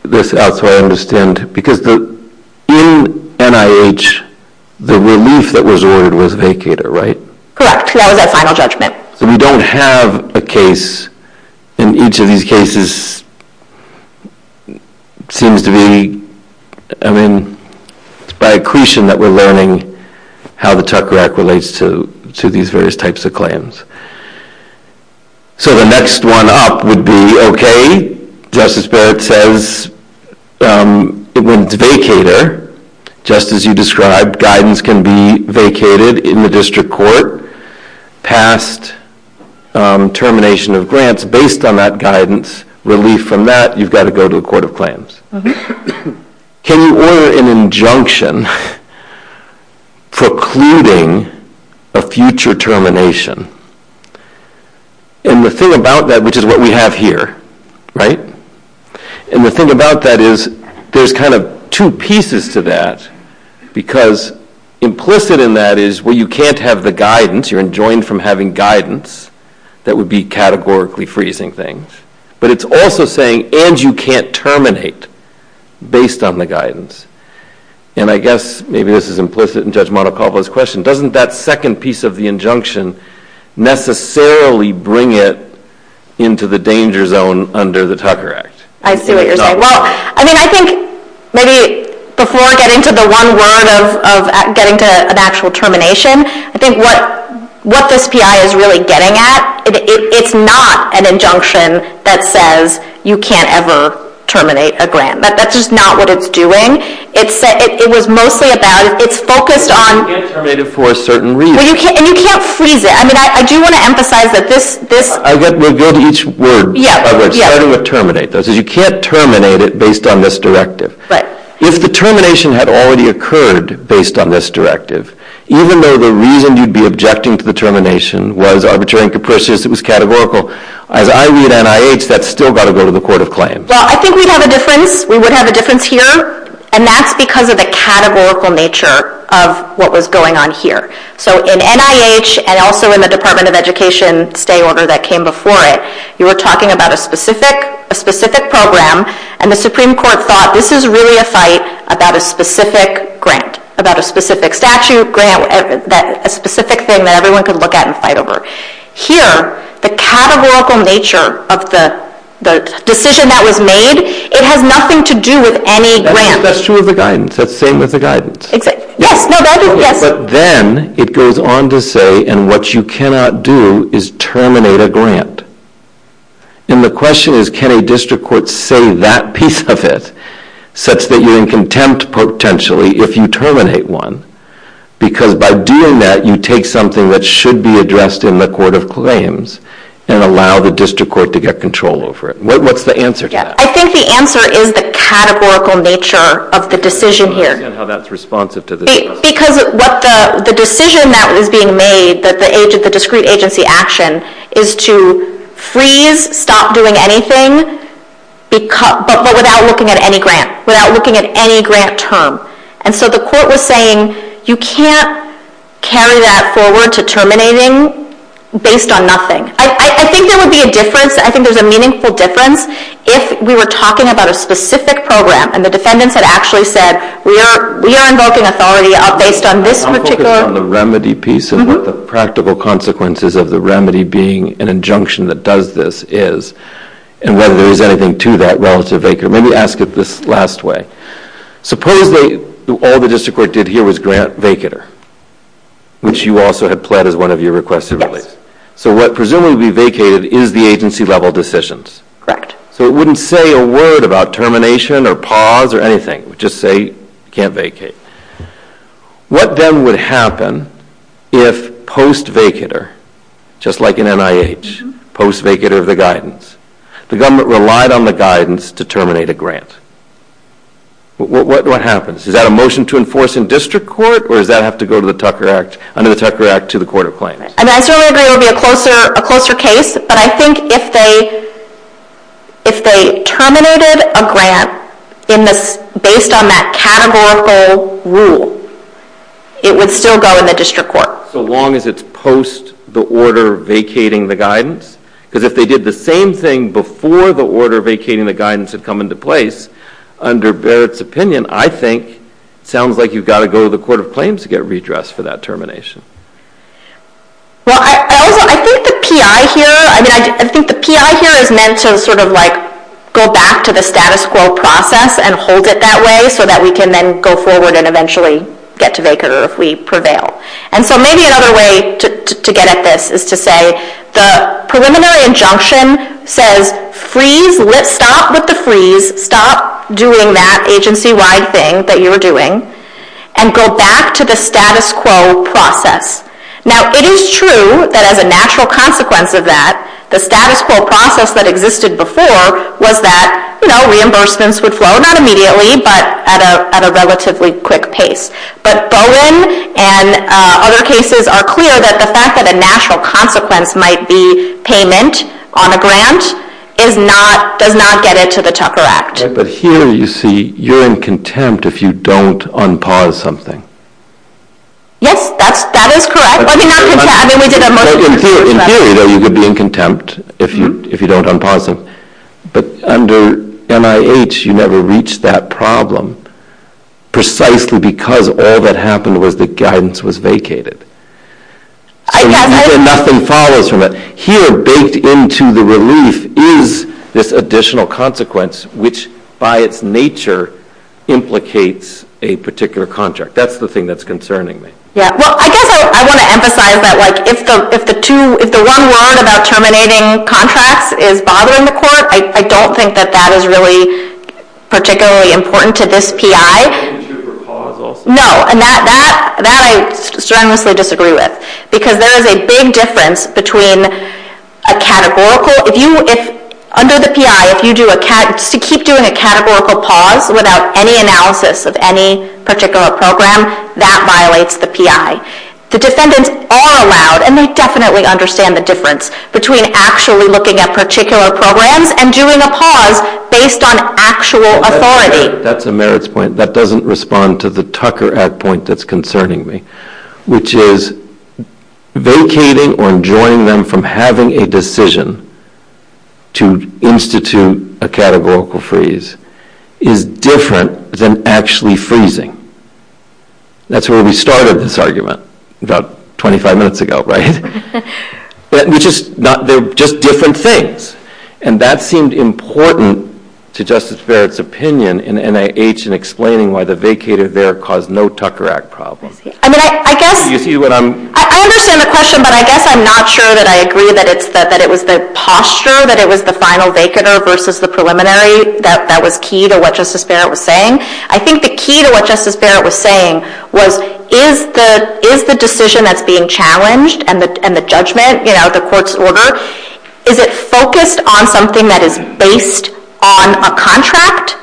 this out so I understand. Because in NIH, the relief that was ordered was vacated, right? Correct. That was our final judgment. So you don't have a case, and each of these cases seems to be, I mean, it's by accretion that we're learning how the TUCRAC relates to these various types of claims. So the next one up would be, okay, Justice Barrett says it went to vacator. Just as you described, guidance can be vacated in the district court past termination of grants. Based on that guidance, relief from that, you've got to go to a court of claims. Can you order an injunction precluding a future termination? And the thing about that, which is what we have here, right, and the thing about that is there's kind of two pieces to that because implicit in that is where you can't have the guidance, you're enjoined from having guidance, that would be categorically freezing things. But it's also saying, and you can't terminate based on the guidance. And I guess maybe this is implicit in Judge Monacovo's question, doesn't that second piece of the injunction necessarily bring it into the danger zone under the TUCRA Act? I see what you're saying. Well, I mean, I think maybe before I get into the one word of getting to an actual termination, I think what this PI is really getting at, it's not an injunction that says you can't ever terminate a grant. That's just not what it's doing. It was mostly about it's focused on – You can't terminate it for a certain reason. And you can't freeze it. I mean, I do want to emphasize that this – We'll go to each word. Yes. Starting with terminate. It says you can't terminate it based on this directive. Right. If the termination had already occurred based on this directive, even though the reason you'd be objecting to the termination was arbitrary and capricious, it was categorical, I read NIH, that's still got to go to the Court of Claims. Well, I think we'd have a difference. We would have a difference here, and that's because of the categorical nature of what was going on here. So in NIH and also in the Department of Education stay order that came before it, you were talking about a specific program, and the Supreme Court thought this is really a fight about a specific grant, about a specific statute, grant, a specific thing that everyone could look at and fight over. Here, the categorical nature of the decision that was made, it has nothing to do with any grant. That's true of the guidance. That's the same with the guidance. Yes. No, that's the same. Then it goes on to say, and what you cannot do is terminate a grant. And the question is, can a district court say that piece of it, such that you're in contempt potentially if you terminate one, because by doing that, you take something that should be addressed in the Court of Claims and allow the district court to get control over it. What's the answer to that? I think the answer is the categorical nature of the decision here. And how that's responsive to the statute. Because the decision that was being made, the discrete agency action, is to freeze, stop doing anything, but without looking at any grant, without looking at any grant term. And so the court was saying, you can't carry that forward to terminating based on nothing. I think there would be a difference, I think there's a meaningful difference, if we were talking about a specific program and the defendants had actually said, we are invoking authority based on this particular. I want to look at the remedy piece and what the practical consequences of the remedy being an injunction that does this is, and whether there's anything to that relative acre. Maybe ask it this last way. Suppose all the district court did here was grant vacater, which you also had pled as one of your requested values. So what presumably vacated is the agency level decisions. Correct. So it wouldn't say a word about termination or pause or anything. It would just say, you can't vacate. What then would happen if post vacater, just like in NIH, post vacater of the guidance, the government relied on the guidance to terminate a grant. What happens? Is that a motion to enforce in district court or does that have to go under the Tucker Act to the court of claim? I certainly agree it would be a closer case, but I think if they terminated a grant based on that categorical rule, it would still go in the district court. So long as it's post the order vacating the guidance? Because if they did the same thing before the order vacating the guidance had come into place, under Barrett's opinion, I think it sounds like you've got to go to the court of claims to get redressed for that termination. I think the PI here is meant to sort of like go back to the status quo process and hold it that way so that we can then go forward and eventually get to vacater if we prevail. So maybe another way to get at this is to say the preliminary injunction says freeze, stop with the freeze, stop doing that agency-wide thing that you're doing and go back to the status quo process. Now it is true that as a natural consequence of that, the status quo process that existed before was that reimbursements would flow, not immediately, but at a relatively quick pace. But Bowen and other cases are clear that the fact that a natural consequence might be payment on a grant does not get into the CHOPPER Act. But here you see you're in contempt if you don't unpause something. Yes, that is correct. In theory, you would be in contempt if you don't unpause it. But under NIH you never reached that problem precisely because all that happened was the guidance was vacated. And so nothing follows from that. Here, based into the release, is this additional consequence, which by its nature implicates a particular contract. That's the thing that's concerning me. Well, I guess I want to emphasize that if the one word about terminating contracts is bothering the court, I don't think that that is really particularly important to this PI. No, and that I strongly disagree with. Because there is a big difference between a categorical. Under the PI, if you keep doing a categorical pause without any analysis of any particular program, that violates the PI. The defendants are allowed, and they definitely understand the difference, between actually looking at particular programs and doing a pause based on actual authority. That's a merits point. That doesn't respond to the Tucker ad point that's concerning me, which is vacating or enjoining them from having a decision to institute a categorical freeze is different than actually freezing. That's where we started this argument about 25 minutes ago, right? They're just different things. That seemed important to Justice Barrett's opinion in NIH in explaining why the vacated there caused no Tucker Act problems. I understand the question, but I guess I'm not sure that I agree that it was the posture, that it was the final decanter versus the preliminary that was key to what Justice Barrett was saying. I think the key to what Justice Barrett was saying was, is the decision that's being challenged and the judgment, the court's order, is it focused on something that is based on a contract,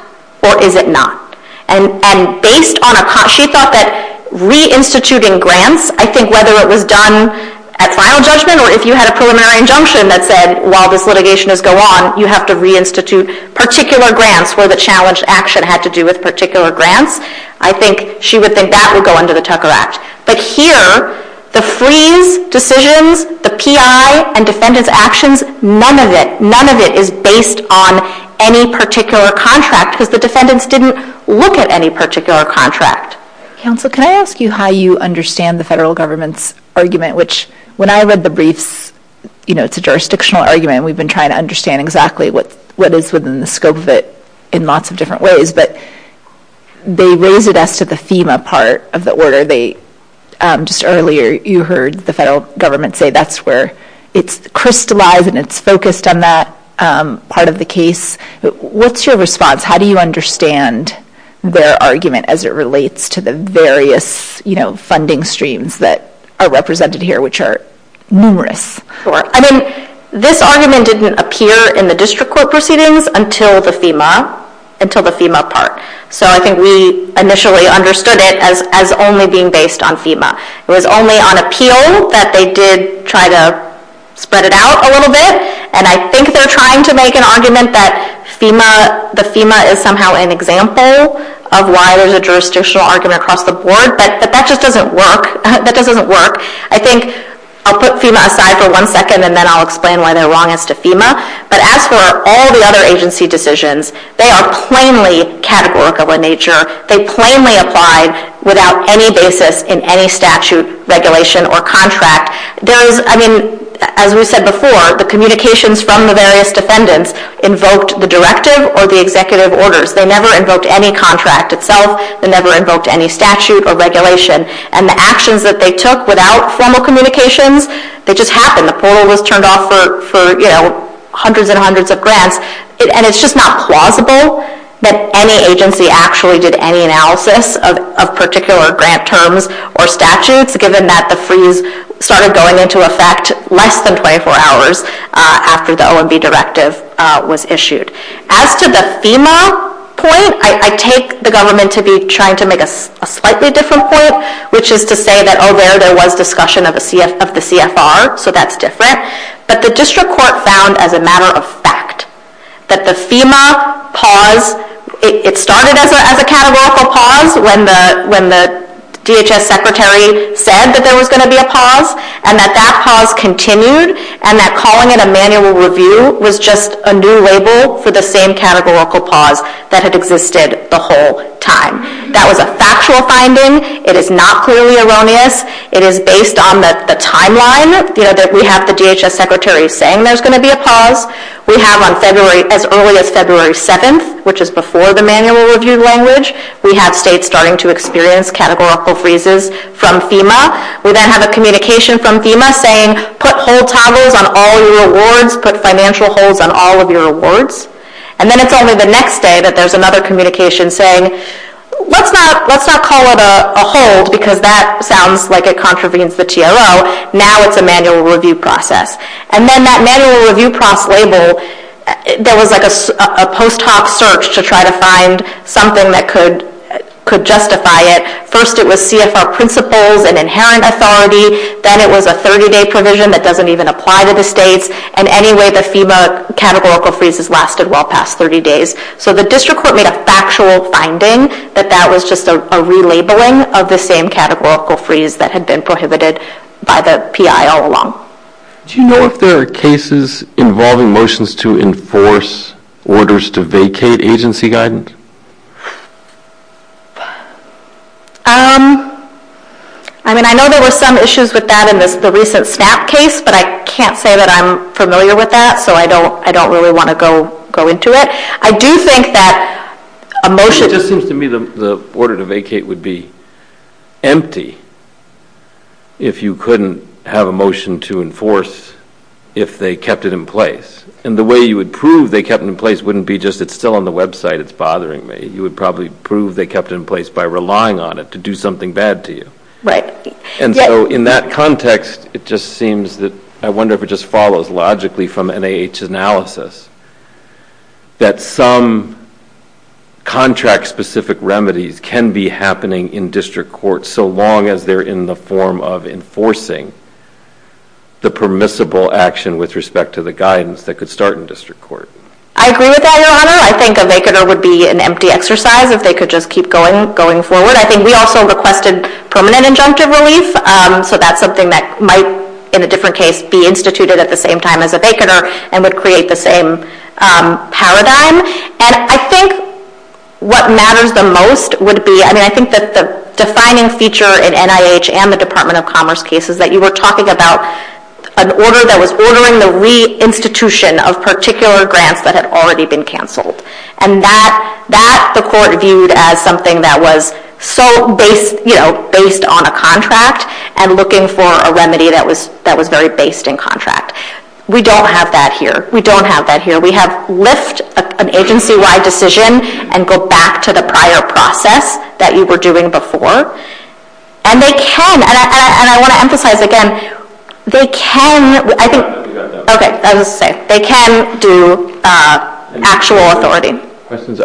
or is it not? And based on a contract, she thought that reinstituting grants, I think whether it was done at final judgment or if you had a preliminary injunction that said, while this litigation is going on, you have to reinstitute particular grants where the challenged action had to do with particular grants, I think she would think that would go under the Tucker Act. But here, the free decisions, the PI and defendant's actions, none of it is based on any particular contract because the defendants didn't look at any particular contract. Counselor, can I ask you how you understand the federal government's argument, which when I read the briefs, it's a jurisdictional argument and we've been trying to understand exactly what is within the scope of it in lots of different ways, but they raise it as to the FEMA part of the order. Just earlier, you heard the federal government say that's where it's crystallized and it's focused on that part of the case. What's your response? How do you understand their argument as it relates to the various funding streams that are represented here, which are numerous? I mean, this argument didn't appear in the district court proceedings until the FEMA part. So I think we initially understood it as only being based on FEMA. It was only on appeal that they did try to spread it out a little bit, and I think they're trying to make an argument that FEMA is somehow an example of why there's a jurisdictional argument across the board, but that just doesn't work. I think I'll put FEMA aside for one second, and then I'll explain why they're wrong as to FEMA. But as for all the other agency decisions, they are plainly categorical in nature. They plainly apply without any basis in any statute, regulation, or contract. I mean, as we said before, the communications from the various defendants invoked the directive or the executive orders. They never invoked any contract itself. They never invoked any statute or regulation. And the actions that they took without formal communications, it just happened. The poll was turned off for hundreds and hundreds of grants, and it's just not plausible that any agency actually did any analysis of particular grant terms or statutes, given that the freeze started going into effect less than 24 hours after the OMB directive was issued. As to the FEMA point, I take the government to be trying to make a slightly different point, which is to say that, oh, there, there was discussion of the CFR, so that's different. But the district court found, as a matter of fact, that the FEMA pause, it started as a categorical pause when the DHS secretary said that there was going to be a pause, and that that pause continued, and that calling it a manual review was just a new label for the same categorical pause that had existed the whole time. That was a factual finding. It is not clearly erroneous. It is based on the timeline that we have the DHS secretary saying there's going to be a pause. We have on February, as early as February 2nd, which is before the manual review language, we have states starting to experience categorical freezes from FEMA. We then have a communication from FEMA saying, put whole towels on all your awards, put financial holds on all of your awards. And then it's only the next day that there's another communication saying, let's not call it a hold because that sounds like it contravenes the TRO. Now it's a manual review process. And then that manual review process label, there was like a post hoc search to try to find something that could justify it. First it was CFR principles and inherent authority. Then it was a 30-day provision that doesn't even apply to the states. And anyway, the FEMA categorical freezes lasted well past 30 days. So the district court made a factual finding that that was just a relabeling of the same categorical freeze that had been prohibited by the PI all along. Do you know if there are cases involving motions to enforce orders to vacate agency guidance? I mean, I know there were some issues with that in the recent SNAP case, but I can't say that I'm familiar with that, so I don't really want to go into it. I do think that a motion... It seems to me the order to vacate would be empty if you couldn't have a motion to enforce if they kept it in place. And the way you would prove they kept it in place wouldn't be just, it's still on the website, it's bothering me. You would probably prove they kept it in place by relying on it to do something bad to you. And so in that context, I wonder if it just follows logically from NIH analysis that some contract-specific remedies can be happening in district court so long as they're in the form of enforcing the permissible action with respect to the guidance that could start in district court. I agree with that, Your Honor. I think a vacater would be an empty exercise if they could just keep going forward. I think we also requested permanent injunctive relief, so that's something that might, in a different case, be instituted at the same time as a vacater and would create the same paradigm. And I think what matters the most would be, I mean, I think that the defining feature in NIH and the Department of Commerce case is that you were talking about an order that was ordering the re-institution of particular grants that had already been canceled. And that support viewed as something that was based on a contract and looking for a remedy that was very based in contract. We don't have that here. We don't have that here. We have left an agency-wide decision and go back to the prior process that you were doing before. And they can, and I want to emphasize again, they can do actual authority.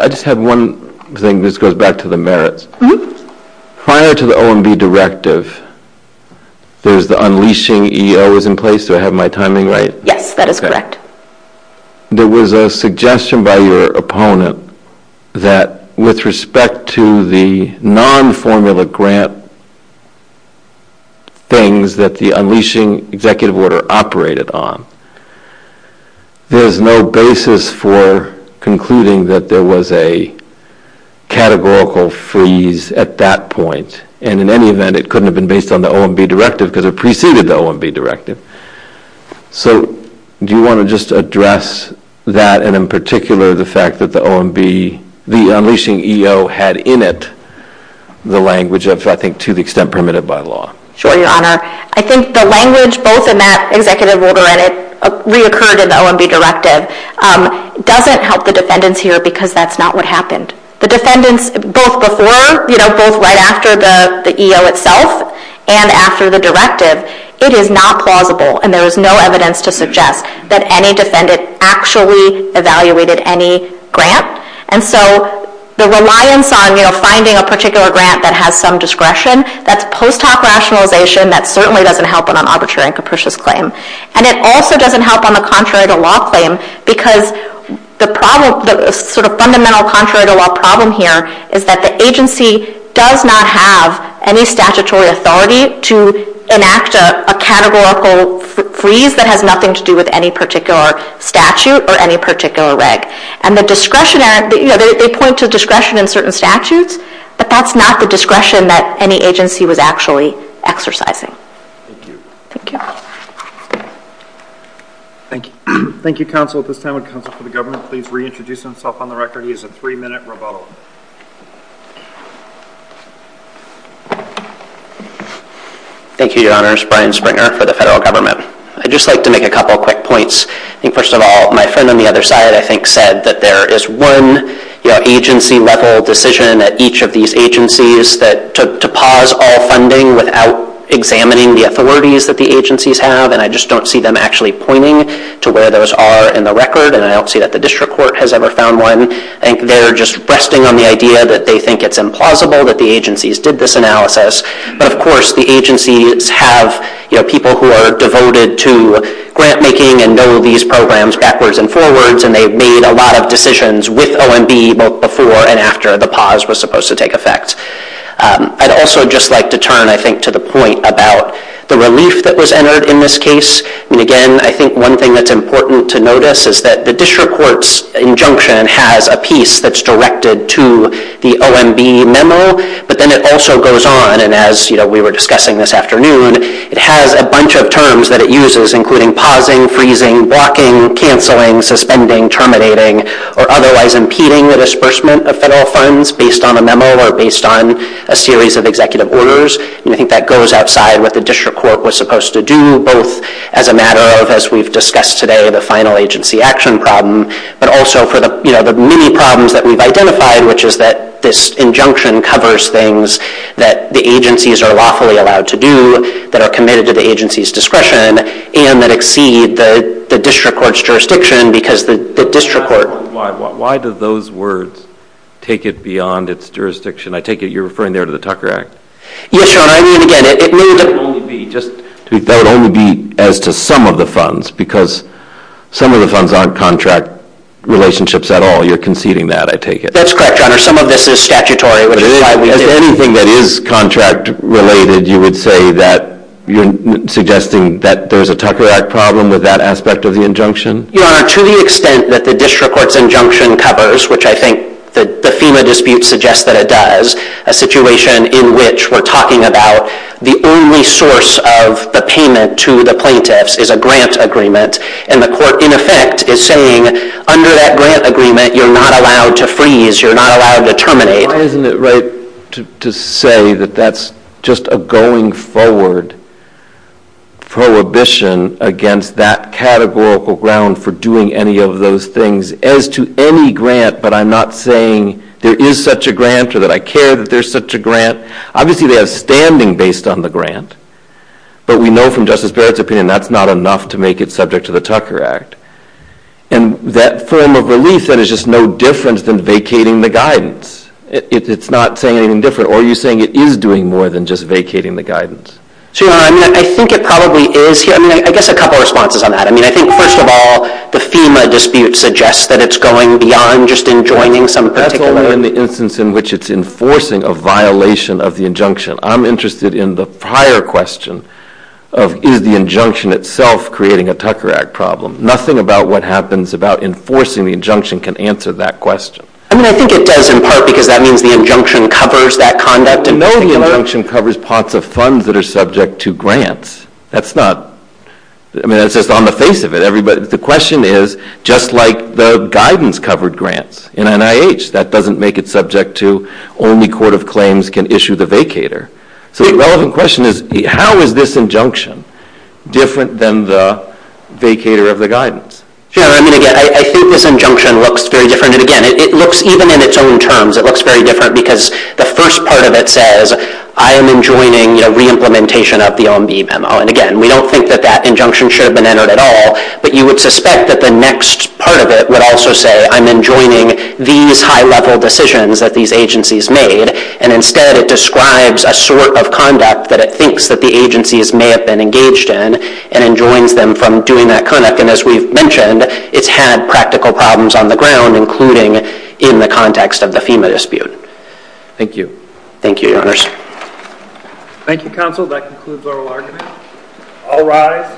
I just have one thing. This goes back to the merits. Prior to the OMB directive, there's the unleashing EOs in place. Do I have my timing right? Yes, that is correct. There was a suggestion by your opponent that with respect to the non-formula grant things that the unleashing executive order operated on, there is no basis for concluding that there was a categorical freeze at that point. And in any event, it couldn't have been based on the OMB directive because it preceded the OMB directive. So do you want to just address that and in particular the fact that the OMB, the unleashing EO had in it the language of I think to the extent permitted by law? Sure, Your Honor. I think the language both in that executive order and it reoccurred in the OMB directive doesn't help the defendants here because that's not what happened. The defendants both before, you know, both right after the EO itself and after the directive, it is not plausible and there is no evidence to suggest that any defendant actually evaluated any grant. And so the reliance on, you know, finding a particular grant that had some discretion, that's post hoc rationalization that certainly doesn't help on an arbitrary and capricious claim. And it also doesn't help on the contrary to law claim because the problem, the sort of fundamental contrary to law problem here is that the agency does not have any statutory authority to enact a categorical freeze that has nothing to do with any particular statute or any particular reg. And the discretionary, you know, they point to discretion in certain statutes, but that's not the discretion that any agency was actually exercising. Thank you. Thank you. Thank you. Thank you, counsel. At this time would counsel for the government please reintroduce himself on the record. He has a three-minute rebuttal. Thank you, Your Honors. Brian Springer for the federal government. I'd just like to make a couple of quick points. First of all, my friend on the other side I think said that there is one, you know, agency-level decision at each of these agencies to pause all funding without examining the authorities that the agencies have and I just don't see them actually pointing to where those are in the record and I don't see that the district court has ever found one. I think they're just resting on the idea that they think it's implausible that the agencies did this analysis. But, of course, the agencies have, you know, people who are devoted to grant making and know these programs backwards and forwards and they've made a lot of decisions with OMB both before and after the pause was supposed to take effect. I'd also just like to turn, I think, to the point about the relief that was entered in this case. And, again, I think one thing that's important to notice is that the district court's injunction has a piece that's directed to the OMB memo, but then it also goes on and as, you know, we were discussing this afternoon, it has a bunch of terms that it uses including pausing, freezing, blocking, canceling, suspending, terminating, or otherwise impeding the disbursement of federal funds based on a memo or based on a series of executive orders. And I think that goes outside what the district court was supposed to do both as a matter of, as we've discussed today, the final agency action problem, but also for the, you know, the many problems that we've identified, which is that this injunction covers things that the agencies are lawfully allowed to do, that are committed to the agency's discretion, and that exceed the district court's jurisdiction because the district court. Why do those words take it beyond its jurisdiction? I take it you're referring there to the Tucker Act. Yes, John, I mean, again, it would only be as to some of the funds because some of the funds aren't contract relationships at all. You're conceding that, I take it. That's correct, Your Honor. Some of this is statutory. If there's anything that is contract related, you would say that you're suggesting that there's a Tucker Act problem with that aspect of the injunction? Your Honor, to the extent that the district court's injunction covers, which I think the FEMA dispute suggests that it does, a situation in which we're talking about the only source of the payment to the plaintiffs is a grant agreement, and the court, in effect, is saying under that grant agreement, you're not allowed to freeze, you're not allowed to terminate. Why isn't it right to say that that's just a going forward prohibition against that categorical ground for doing any of those things as to any grant, but I'm not saying there is such a grant or that I care that there's such a grant? Obviously they have standing based on the grant, but we know from Justice Barrett's opinion that's not enough to make it subject to the Tucker Act, and that form of relief, that is just no different than vacating the guidance. It's not saying anything different, or are you saying it is doing more than just vacating the guidance? Your Honor, I think it probably is. I mean, I guess a couple of responses on that. I mean, I think, first of all, the FEMA dispute suggests that it's going beyond just enjoining some particular law. That's more than the instance in which it's enforcing a violation of the injunction. I'm interested in the prior question of is the injunction itself creating a Tucker Act problem. Nothing about what happens about enforcing the injunction can answer that question. I mean, I think it does in part because that means the injunction covers that conduct. No, the injunction covers parts of funds that are subject to grants. That's not, I mean, that's just on the face of it. The question is, just like the guidance covered grants in NIH, that doesn't make it subject to only court of claims can issue the vacator. So the relevant question is, how is this injunction different than the vacator of the guidance? Your Honor, I mean, again, I think this injunction looks very different. And, again, it looks, even in its own terms, it looks very different because the first part of it says, I am enjoining a reimplementation of the OMB memo. And, again, we don't think that that injunction should have been entered at all, but you would suspect that the next part of it would also say, I'm enjoining these high-level decisions that these agencies made. And, instead, it describes a sort of conduct that it thinks that the agencies may have been engaged in and enjoins them from doing that kind of thing. And, as we've mentioned, it's had practical problems on the ground, including in the context of the FEMA dispute. Thank you. Thank you, Your Honors. Thank you, Counsel. That concludes our argument. All rise.